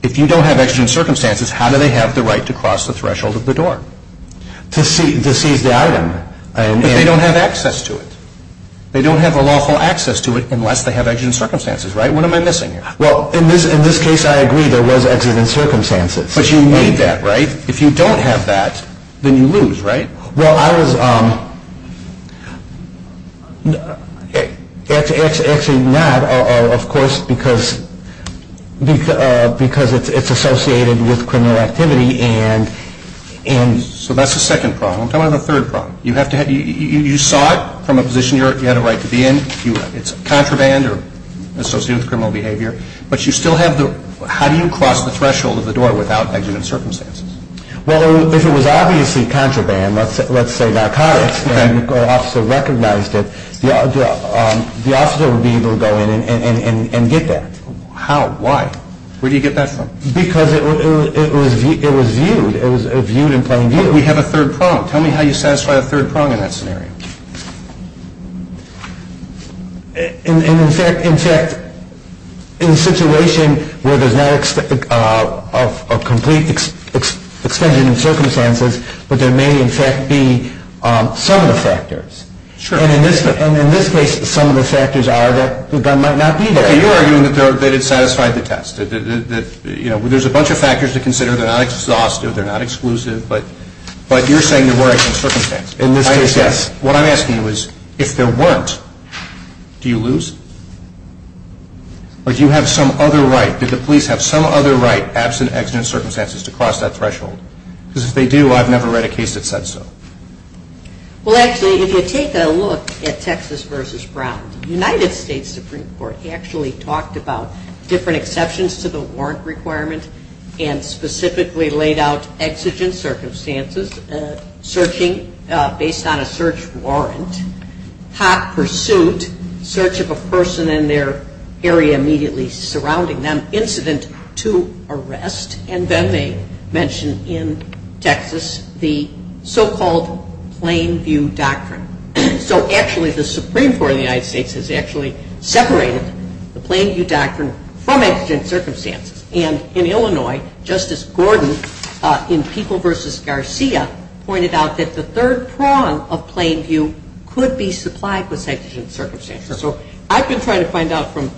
if you don't have exigent circumstances, how do they have the right to cross the threshold of the door? To seize the item. But they don't have access to it. They don't have a lawful access to it unless they have exigent circumstances, right? What am I missing? Well, in this case, I agree there was exigent circumstances. But you need that, right? If you don't have that, then you lose, right? Well, I was – it's actually not, of course, because it's associated with criminal activity and – So that's the second prong. Tell me the third prong. You saw it from a position you had a right to be in. It's contraband or associated with criminal behavior. But you still have the – how do you cross the threshold of the door without exigent circumstances? Well, if it was obviously contraband, let's say narcotics, and the officer recognized it, the officer would be able to go in and get that. How? Why? Where do you get that from? Because it was viewed. It was viewed in plain view. We have a third prong. Tell me how you satisfy the third prong in that scenario. In fact, in a situation where there's not a complete extension of circumstances, there may, in fact, be some of the factors. And in this case, some of the factors are that the gun might not be there. You're arguing that it satisfied the test. There's a bunch of factors to consider. They're not exhaustive. They're not exclusive. But you're saying there weren't any circumstances. In this case, yes. What I'm asking you is, if there weren't, do you lose? Or do you have some other right? Did the police have some other right, absent exigent circumstances, to cross that threshold? Because if they do, I've never read a case that said so. Well, actually, if you take a look at Texas v. Brown, the United States Supreme Court actually talked about different exceptions to the warrant requirement and specifically laid out exigent circumstances based on a search warrant, hot pursuit, search of a person in their area immediately surrounding them, incident to arrest, and then they mentioned in Texas the so-called Plain View Doctrine. So actually, the Supreme Court of the United States has actually separated the Plain View Doctrine from exigent circumstances. And in Illinois, Justice Gordon, in People v. Garcia, pointed out that the third prong of Plain View could be supplied with exigent circumstances. So I've been trying to find out from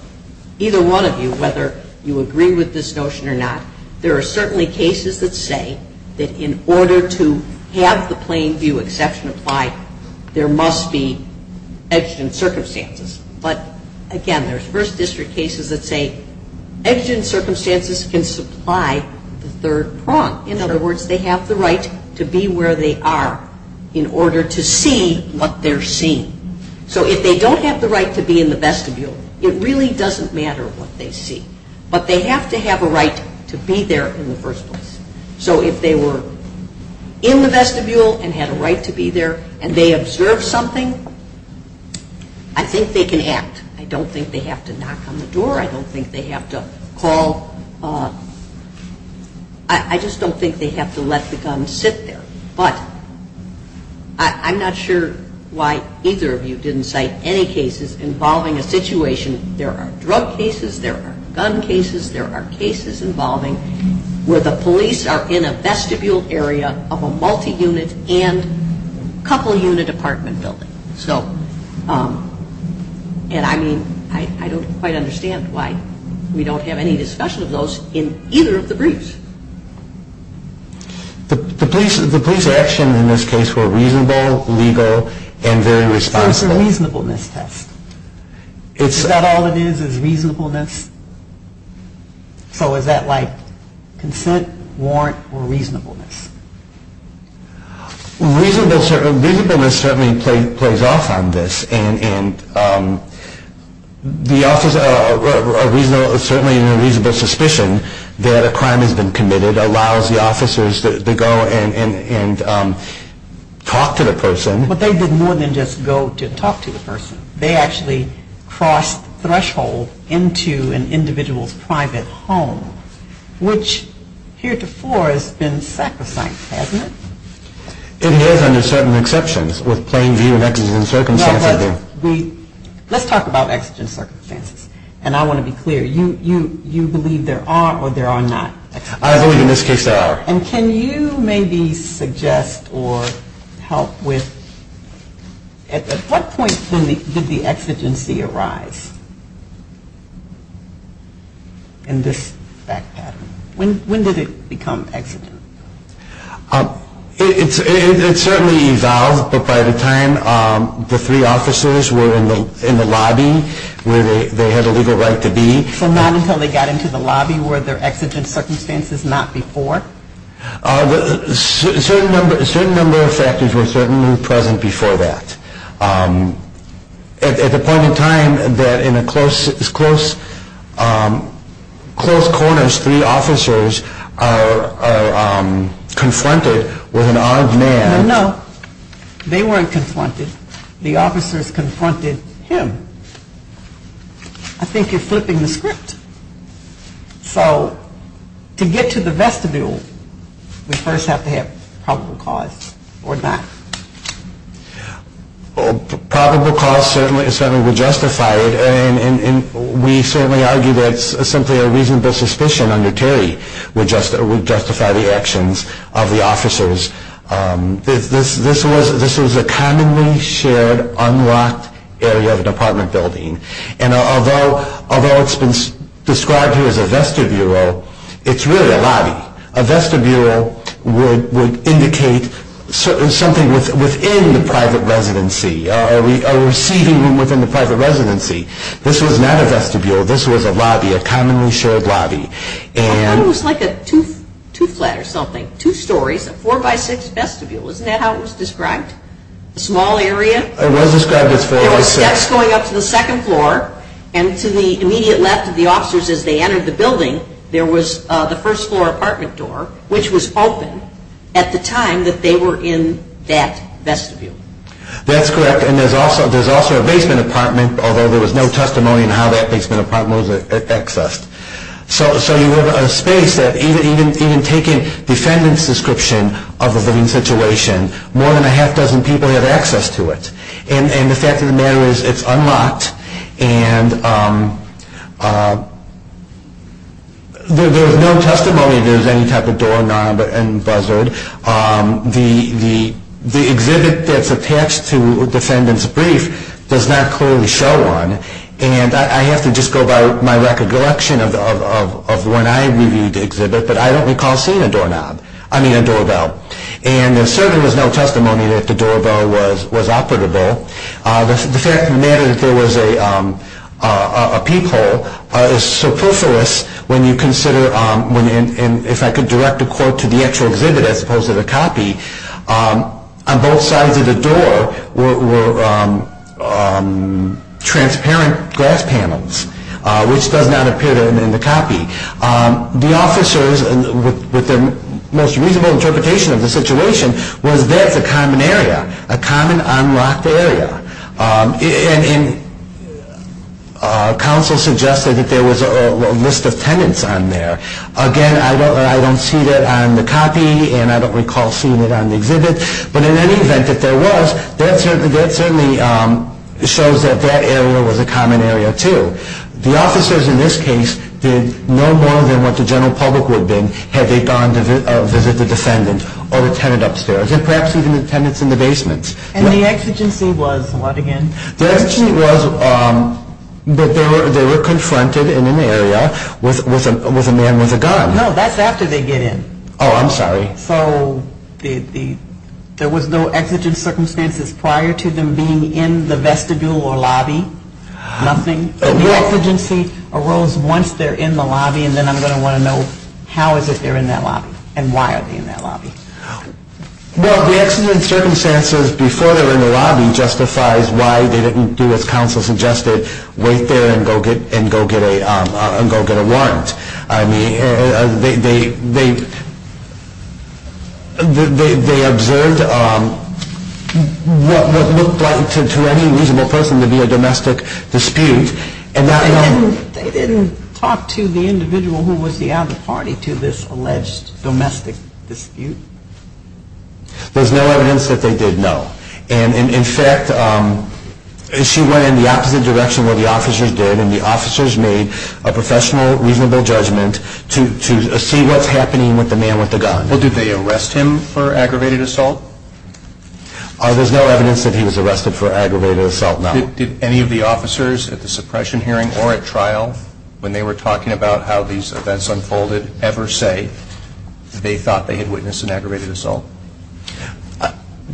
either one of you whether you agree with this notion or not. There are certainly cases that say that in order to have the Plain View exception applied, there must be exigent circumstances. But again, there's First District cases that say exigent circumstances can supply the third prong. In other words, they have the right to be where they are in order to see what they're seeing. So if they don't have the right to be in the vestibule, it really doesn't matter what they see. But they have to have a right to be there in the first place. So if they were in the vestibule and had a right to be there and they observed something, I think they can act. I don't think they have to knock on the door. I don't think they have to call. I just don't think they have to let the gun sit there. But I'm not sure why either of you didn't cite any cases involving a situation. There are drug cases. There are gun cases. There are cases involving where the police are in a vestibule area of a multi-unit and couple-unit apartment building. And I mean, I don't quite understand why we don't have any discussions of those in either of the briefs. The police are actually in this case were reasonable, legal, and very responsible. It's a reasonableness test. Is that all it is, is reasonableness? So is that like consent, warrant, or reasonableness? Reasonableness certainly plays off on this. And certainly a reasonable suspicion that a crime has been committed allows the officers to go and talk to the person. But they didn't more than just go to talk to the person. They actually crossed thresholds into an individual's private home, which heretofore has been sacrificed, hasn't it? It has under certain exceptions with plain view and exigent circumstances. No, it doesn't. Let's talk about exigent circumstances. And I want to be clear. You believe there are or there are not. I believe in this case there are. And can you maybe suggest or help with at what point did the exigency arrive in this back pattern? When did it become exigent? It certainly evolved, but by the time the three officers were in the lobby where they had a legal right to be. So not until they got into the lobby were there exigent circumstances, not before? A certain number of factors were certainly present before that. At the point in time that in the close corners three officers are confronted with an odd man. No, they weren't confronted. The officers confronted him. I think you're flipping the script. So to get to the vestibule, we first have to have probable cause or not. Probable cause certainly would justify it, and we certainly argue that simply a reasonable suspicion under Terry would justify the actions of the officers. This was a commonly shared, unlocked area of an apartment building. And although it's described here as a vestibule, it's really a lobby. A vestibule would indicate something within the private residency, a receiving room within the private residency. This was not a vestibule. This was a lobby, a commonly shared lobby. It was like a two-story, a four-by-six vestibule. Isn't that how it was described? A small area going up to the second floor, and to the immediate left of the officers as they entered the building, there was the first floor apartment door, which was open at the time that they were in that vestibule. That's correct, and there's also a basement apartment, although there was no testimony on how that basement apartment was accessed. So you have a space that even taking defendant's description of the building situation, more than a half dozen people have access to it. And the fact of the matter is it's unlocked, and there's no testimony there's any type of doorknob and buzzard. The exhibit that's attached to defendant's brief does not clearly show one, and I have to just go by my recollection of when I reviewed the exhibit, but I don't recall seeing a doorknob, I mean a doorbell. And there certainly was no testimony that the doorbell was operable. The fact of the matter is there was a peephole. So first of all, when you consider, if I could direct a quote to the actual exhibit as opposed to the copy, on both sides of the door were transparent glass panels, which does not appear in the copy. The officers, with their most reasonable interpretation of the situation, were there at the common area, a common unlocked area. And counsel suggested that there was a list of tenants on there. Again, I don't see that on the copy, and I don't recall seeing it on the exhibit, but in any event that there was, that certainly shows that that area was a common area too. The officers in this case did no more than what the general public would do had they gone to visit the defendant or the tenant upstairs, and perhaps even the tenants in the basements. And the exigency was what again? The exigency was that they were confronted in an area with a man with a gun. No, that's after they get in. Oh, I'm sorry. So there was no exigent circumstances prior to them being in the vestibule or lobby, nothing? The exigency arose once they're in the lobby, and then I'm going to want to know how is it they're in that lobby and why are they in that lobby. Well, the exigent circumstances before they were in the lobby justifies why they didn't do what counsel suggested, wait there and go get a warrant. I mean, they observed what looked like to any reasonable person to be a domestic dispute. They didn't talk to the individual who was the other party to this alleged domestic dispute? There's no evidence that they did, no. And in fact, she went in the opposite direction where the officers did, and the officers made a professional, reasonable judgment to see what's happening with the man with the gun. Did they arrest him for aggravated assault? There's no evidence that he was arrested for aggravated assault, no. Did any of the officers at the suppression hearing or at trial, when they were talking about how these events unfolded, ever say they thought they had witnessed an aggravated assault?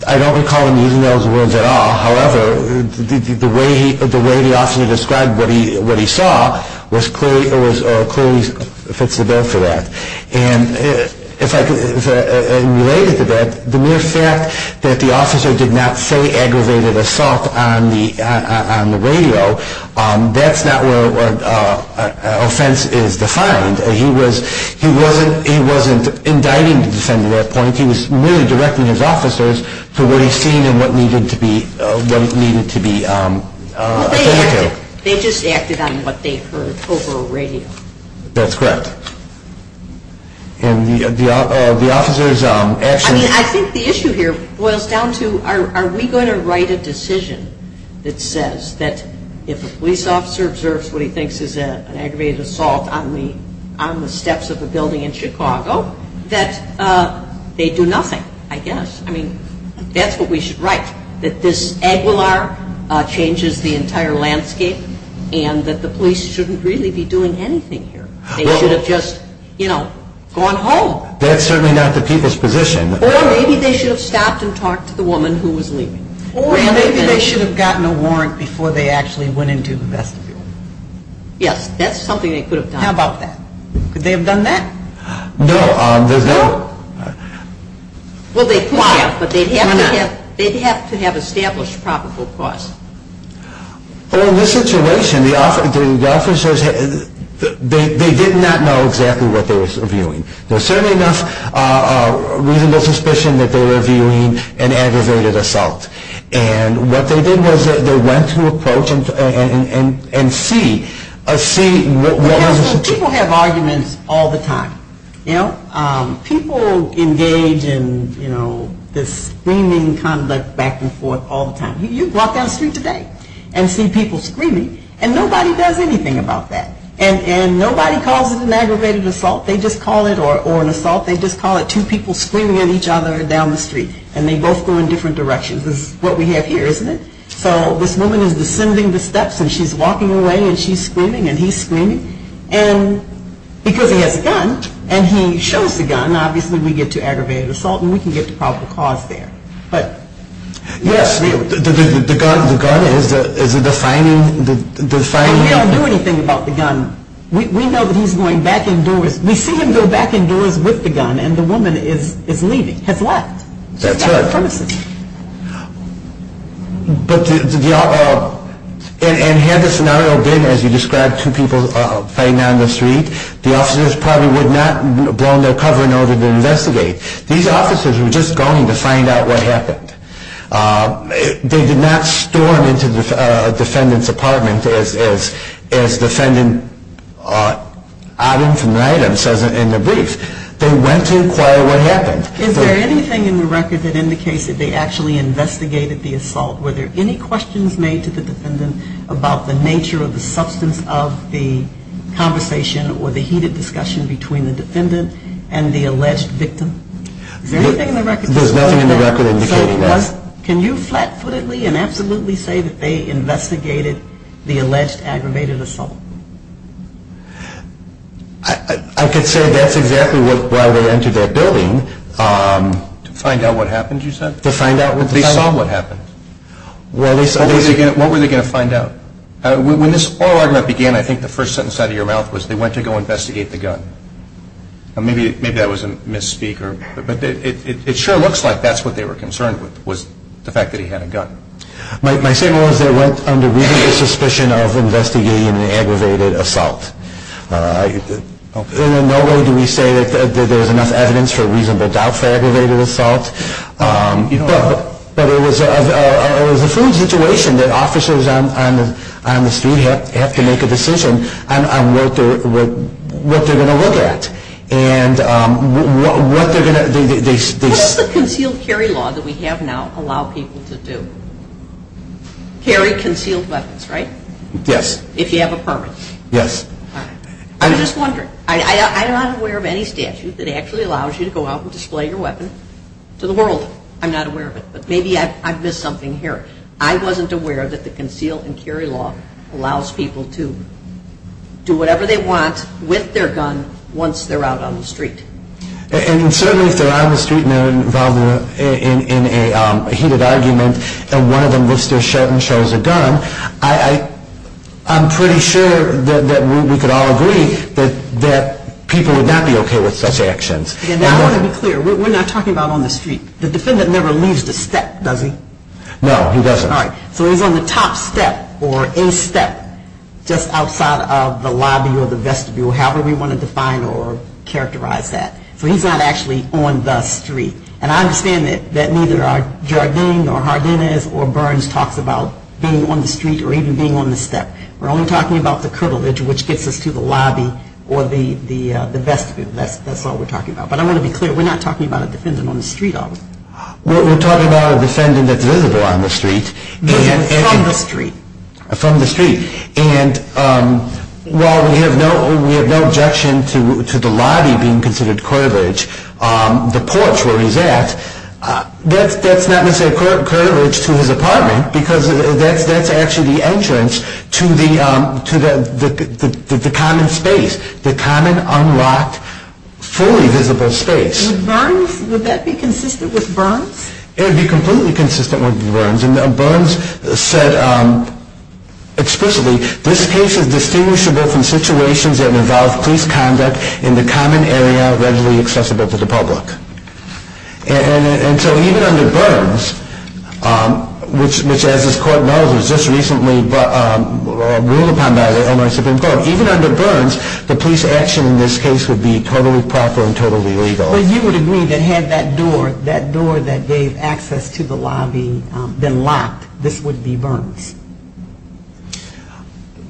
I don't recall them using those words at all. However, the way the officer described what he saw clearly fits the bill for that. And related to that, the mere fact that the officer did not say aggravated assault on the radio, that's not where offense is defined. He wasn't indicting the defendant at that point. He was merely directing his officers for what he seen and what needed to be heard. They just acted on what they heard over a radio. That's correct. I think the issue here boils down to are we going to write a decision that says that if a police officer observes what he thinks is an aggravated assault on the steps of a building in Chicago, that they do nothing, I guess. I mean, that's what we should write, that this Aguilar changes the entire landscape and that the police shouldn't really be doing anything here. They should have just, you know, gone home. That's certainly not the people's position. Well, maybe they should have stopped and talked to the woman who was leaving. Or maybe they should have gotten a warrant before they actually went into the vestibule. Yes, that's something they could have done. How about that? Could they have done that? No. Well, they could have, but they'd have to have established probable cause. Well, in this situation, the officers, they did not know exactly what they were viewing. There was certainly enough reasonable suspicion that they were viewing an aggravated assault. And what they did was they went to approach and see. People have arguments all the time, you know. People engage in, you know, this screaming kind of like back and forth all the time. You walk down the street today and see people screaming, and nobody does anything about that. And nobody calls it an aggravated assault. They just call it, or an assault, they just call it two people screaming at each other down the street. And they both go in different directions, which is what we have here, isn't it? So this woman is descending the steps, and she's walking away, and she's screaming, and he's screaming. And because he has a gun, and he shows the gun, obviously we get to aggravated assault, and we can get to probable cause there. Yes, the gun is the defining element. But we don't do anything about the gun. We know that he's going back and forth. We see him go back and forth with the gun, and the woman is leaving. Except what? That's it. And had the scenario been, as you described, two people fighting down the street, the officers probably would not have blown their cover in order to investigate. These officers were just going to find out what happened. They did not storm into a defendant's apartment as defendant items and items in the brief. They went to inquire what happened. Is there anything in the record that indicates that they actually investigated the assault? Were there any questions made to the defendant about the nature of the substance of the conversation or the heated discussion between the defendant and the alleged victim? Is there anything in the record? There's nothing in the record indicating that. Can you flat-footedly and absolutely say that they investigated the alleged aggravated assault? I could say that's exactly why they entered that building. To find out what happened, you said? To find out what happened. They saw what happened. What were they going to find out? When this oral argument began, I think the first sentence out of your mouth was, they went to go investigate the gun. Maybe that was a misspeak, but it sure looks like that's what they were concerned with, was the fact that he had a gun. My statement was they went under real suspicion of investigating the aggravated assault. In no way do we say that there was enough evidence for reasonable doubt for aggravated assault. But it was a situation that officers on the scene have to make a decision on what they're going to look at. What does the concealed carry law that we have now allow people to do? Carry concealed weapons, right? Yes. If you have a permit. Yes. I'm just wondering. I'm not aware of any statute that actually allows you to go out and display your weapon to the world. I'm not aware of it, but maybe I've missed something here. I wasn't aware that the concealed carry law allows people to do whatever they want with their gun once they're out on the street. And certainly if they're out on the street and they're involved in a heated argument and one of them lifts their shirt and shows a gun, I'm pretty sure that we could all agree that people would not be okay with such actions. And I want to be clear. We're not talking about on the street. The defendant never leaves the set, does he? No, he doesn't. All right. So he's on the top set or a set just outside of the lobby or the vestibule, however we want to define or characterize that. So he's not actually on the street. And I understand that neither Jardim or Jardines or Burns talk about being on the street or even being on the set. We're only talking about the curvilege which gets us to the lobby or the vestibule. That's what we're talking about. But I want to be clear. We're not talking about a defendant on the street, are we? We're talking about a defendant that lives on the street. From the street. From the street. And while we have no objection to the lobby being considered curvilege, the porch where he's at, that's not necessarily curvilege to his apartment because that's actually the entrance to the common space, the common, unlocked, fully visible space. Would that be consistent with Burns? Burns said explicitly, this case is distinguishable from situations that involve police conduct in the common area readily accessible to the public. And so even under Burns, which as this court knows was just recently ruled upon by the Illinois Supreme Court, even under Burns the police action in this case would be totally proper and totally legal. So you would agree that had that door, that door that gave access to the lobby been locked, this would be Burns,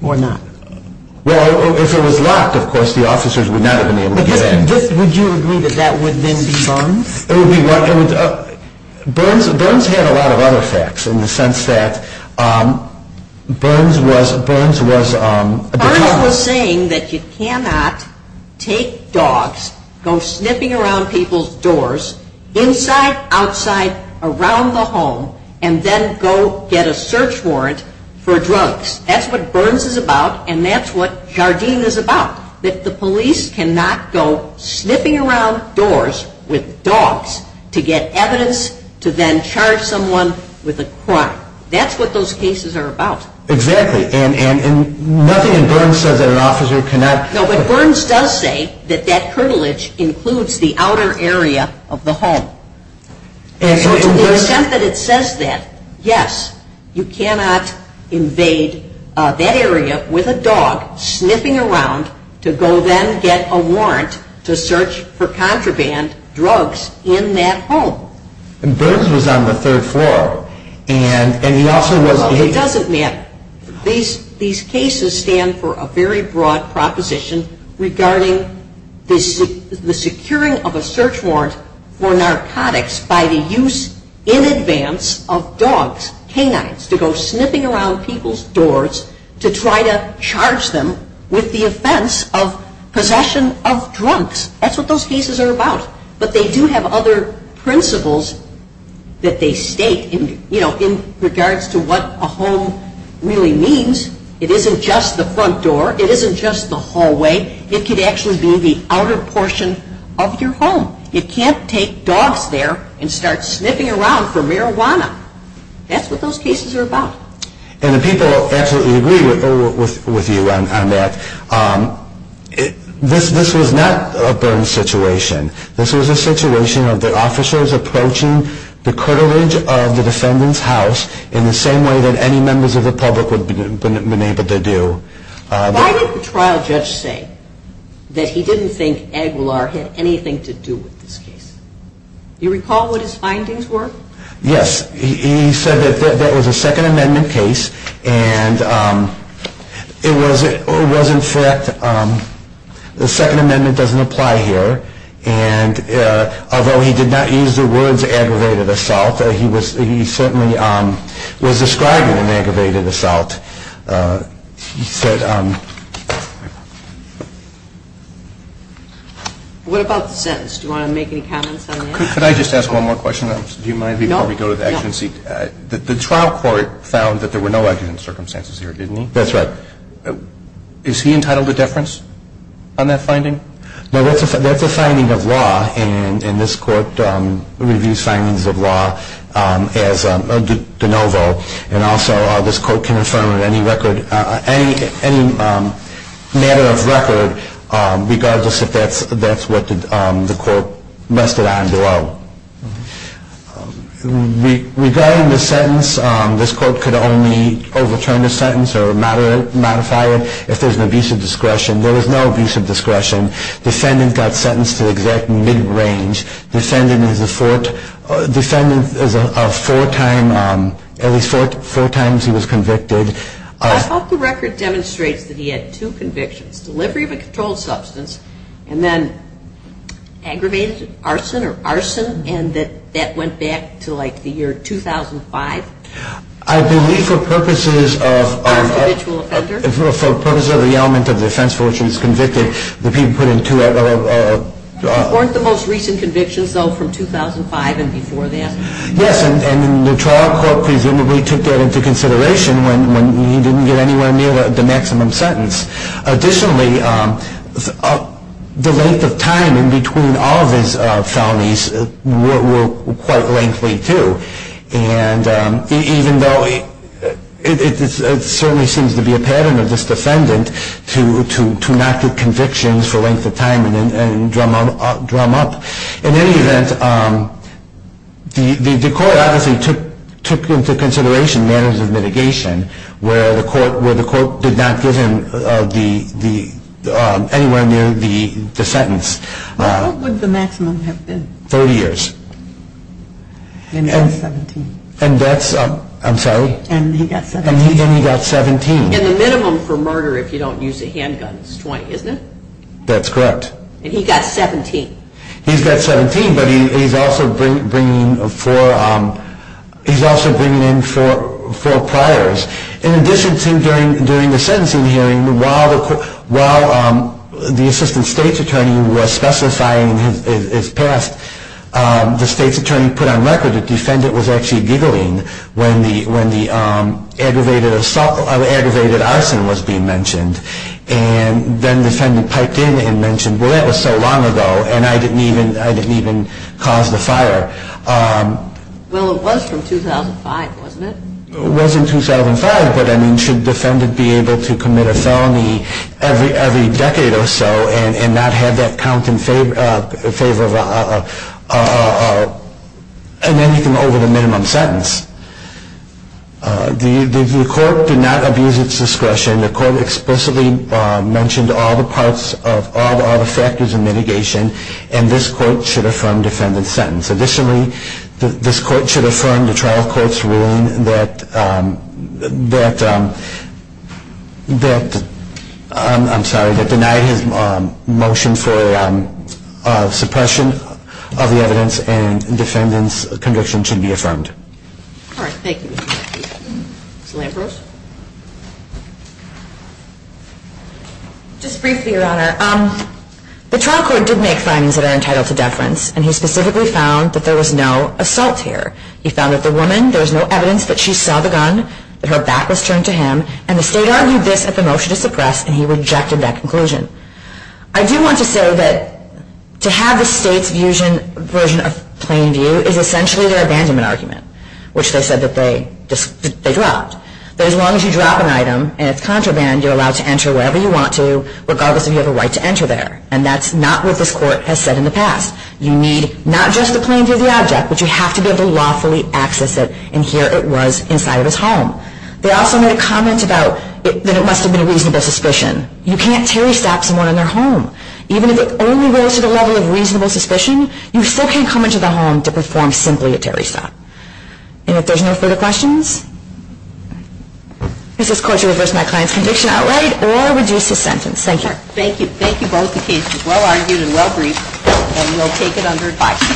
or not? Well, if it was locked, of course, the officers would not have been able to get in. Would you agree that that would then be Burns? It would be Burns. Burns had a lot of other facts in the sense that Burns was a defendant. Burns was saying that you cannot take dogs, go sniffing around people's doors, inside, outside, around the home, and then go get a search warrant for drugs. That's what Burns is about, and that's what Jardim is about. That the police cannot go sniffing around doors with dogs to get evidence to then charge someone with a crime. That's what those cases are about. Exactly, and nothing in Burns says that an officer cannot... No, but Burns does say that that privilege includes the outer area of the home. And so in the sense that it says that, yes, you cannot invade that area with a dog sniffing around to go then get a warrant to search for contraband drugs in that home. And Burns was on the third floor. It doesn't matter. These cases stand for a very broad proposition regarding the securing of a search warrant for narcotics by the use in advance of dogs, canines, to go sniffing around people's doors to try to charge them with the offense of possession of drugs. That's what those cases are about. But they do have other principles that they state in regards to what a home really means. It isn't just the front door. It isn't just the hallway. It could actually be the outer portion of your home. You can't take dogs there and start sniffing around for marijuana. That's what those cases are about. And the people absolutely agree with you on that. This was not a Burns situation. This was a situation of the officers approaching the courtage of the defendant's house in the same way that any members of the public would have been able to do. Why did the trial judge say that he didn't think Aguilar had anything to do with this case? Do you recall what his findings were? Yes. He said that that was a Second Amendment case, and it was, in fact, the Second Amendment doesn't apply here. And although he did not use the words aggravated assault, he certainly was describing an aggravated assault. What about the sentence? Do you want to make any comments on that? Could I just ask one more question? Do you mind before we go to the action seat? The trial court found that there were no accident circumstances here, didn't he? That's right. Is he entitled to deference on that finding? No, that's a signing of law, and this court reviews signings of law as de novo, and also this court can affirm any matter of record regardless if that's what the court rested on below. Regarding the sentence, this court could only overturn the sentence or modify it if there's an abuse of discretion. There was no abuse of discretion. Defendant got sentenced to the exact mid-range. Defendant is a four-time, every four times he was convicted. I thought the record demonstrated that he had two convictions, delivery of a controlled substance and then aggravated arson or arson, and that that went back to, like, the year 2005? I believe for purposes of- Unconventional offenders? For purposes of the element of defense for which he was convicted, the people put in two other- Weren't the most recent convictions, though, from 2005 and before that? Yes, and the trial court presumably took that into consideration when he didn't get anywhere near the maximum sentence. Additionally, the length of time in between all of his felonies were quite lengthy, too, and even though it certainly seems to be a pattern of this defendant to not get convictions for length of time and drum up, in any event, the court obviously took into consideration matters of mitigation, where the court did not give him anywhere near the sentence. How long would the maximum have been? 30 years. And he got 17. And that's- I'm sorry? And he got 17. And he got 17. And the minimum for murder, if you don't use a handgun, is 20, isn't it? That's correct. And he got 17. He got 17, but he's also bringing in four priors. In addition to during the sentencing hearing, while the assistant state's attorney was specifying his past, the state's attorney put on record that the defendant was actually giggling when the aggravated arson was being mentioned, and then the defendant piped in and mentioned, well, that was so long ago, and I didn't even cause the fire. Well, it was from 2005, wasn't it? It was in 2005, but, I mean, should the defendant be able to commit a felony every decade or so and not have that count in favor of anything over the minimum sentence? The court did not abuse its discretion. The court explicitly mentioned all the parts of all the factors of mitigation, and this court should affirm defendant's sentence. Additionally, this court should affirm the trial court's ruling that denied his motion for suppression of the evidence and defendant's conviction should be affirmed. Thank you. Lambros? Just briefly, Your Honor. I do want to say that to have the state's version of plain view is essentially their abandonment argument, which they said that they dropped. But as long as you drop an item and it's contraband, you're allowed to enter wherever you want to, regardless if you have a right to enter there. And that's not what this court has said in the past. You need not just the plain view of the object, but you have to be able to lawfully access it, and here it was inside of his home. They also made a comment about that it must have been a reasonable suspicion. You can't terry staff someone in their home. Even if it only rose to the level of reasonable suspicion, you still can't come into the home to respond simply to terry staff. And if there's no further questions, this is court to reverse my client's conviction outright or reduce the sentence. Thank you. Thank you. Thank you both. The case is well-argued and well-briefed, and we'll take it under advice.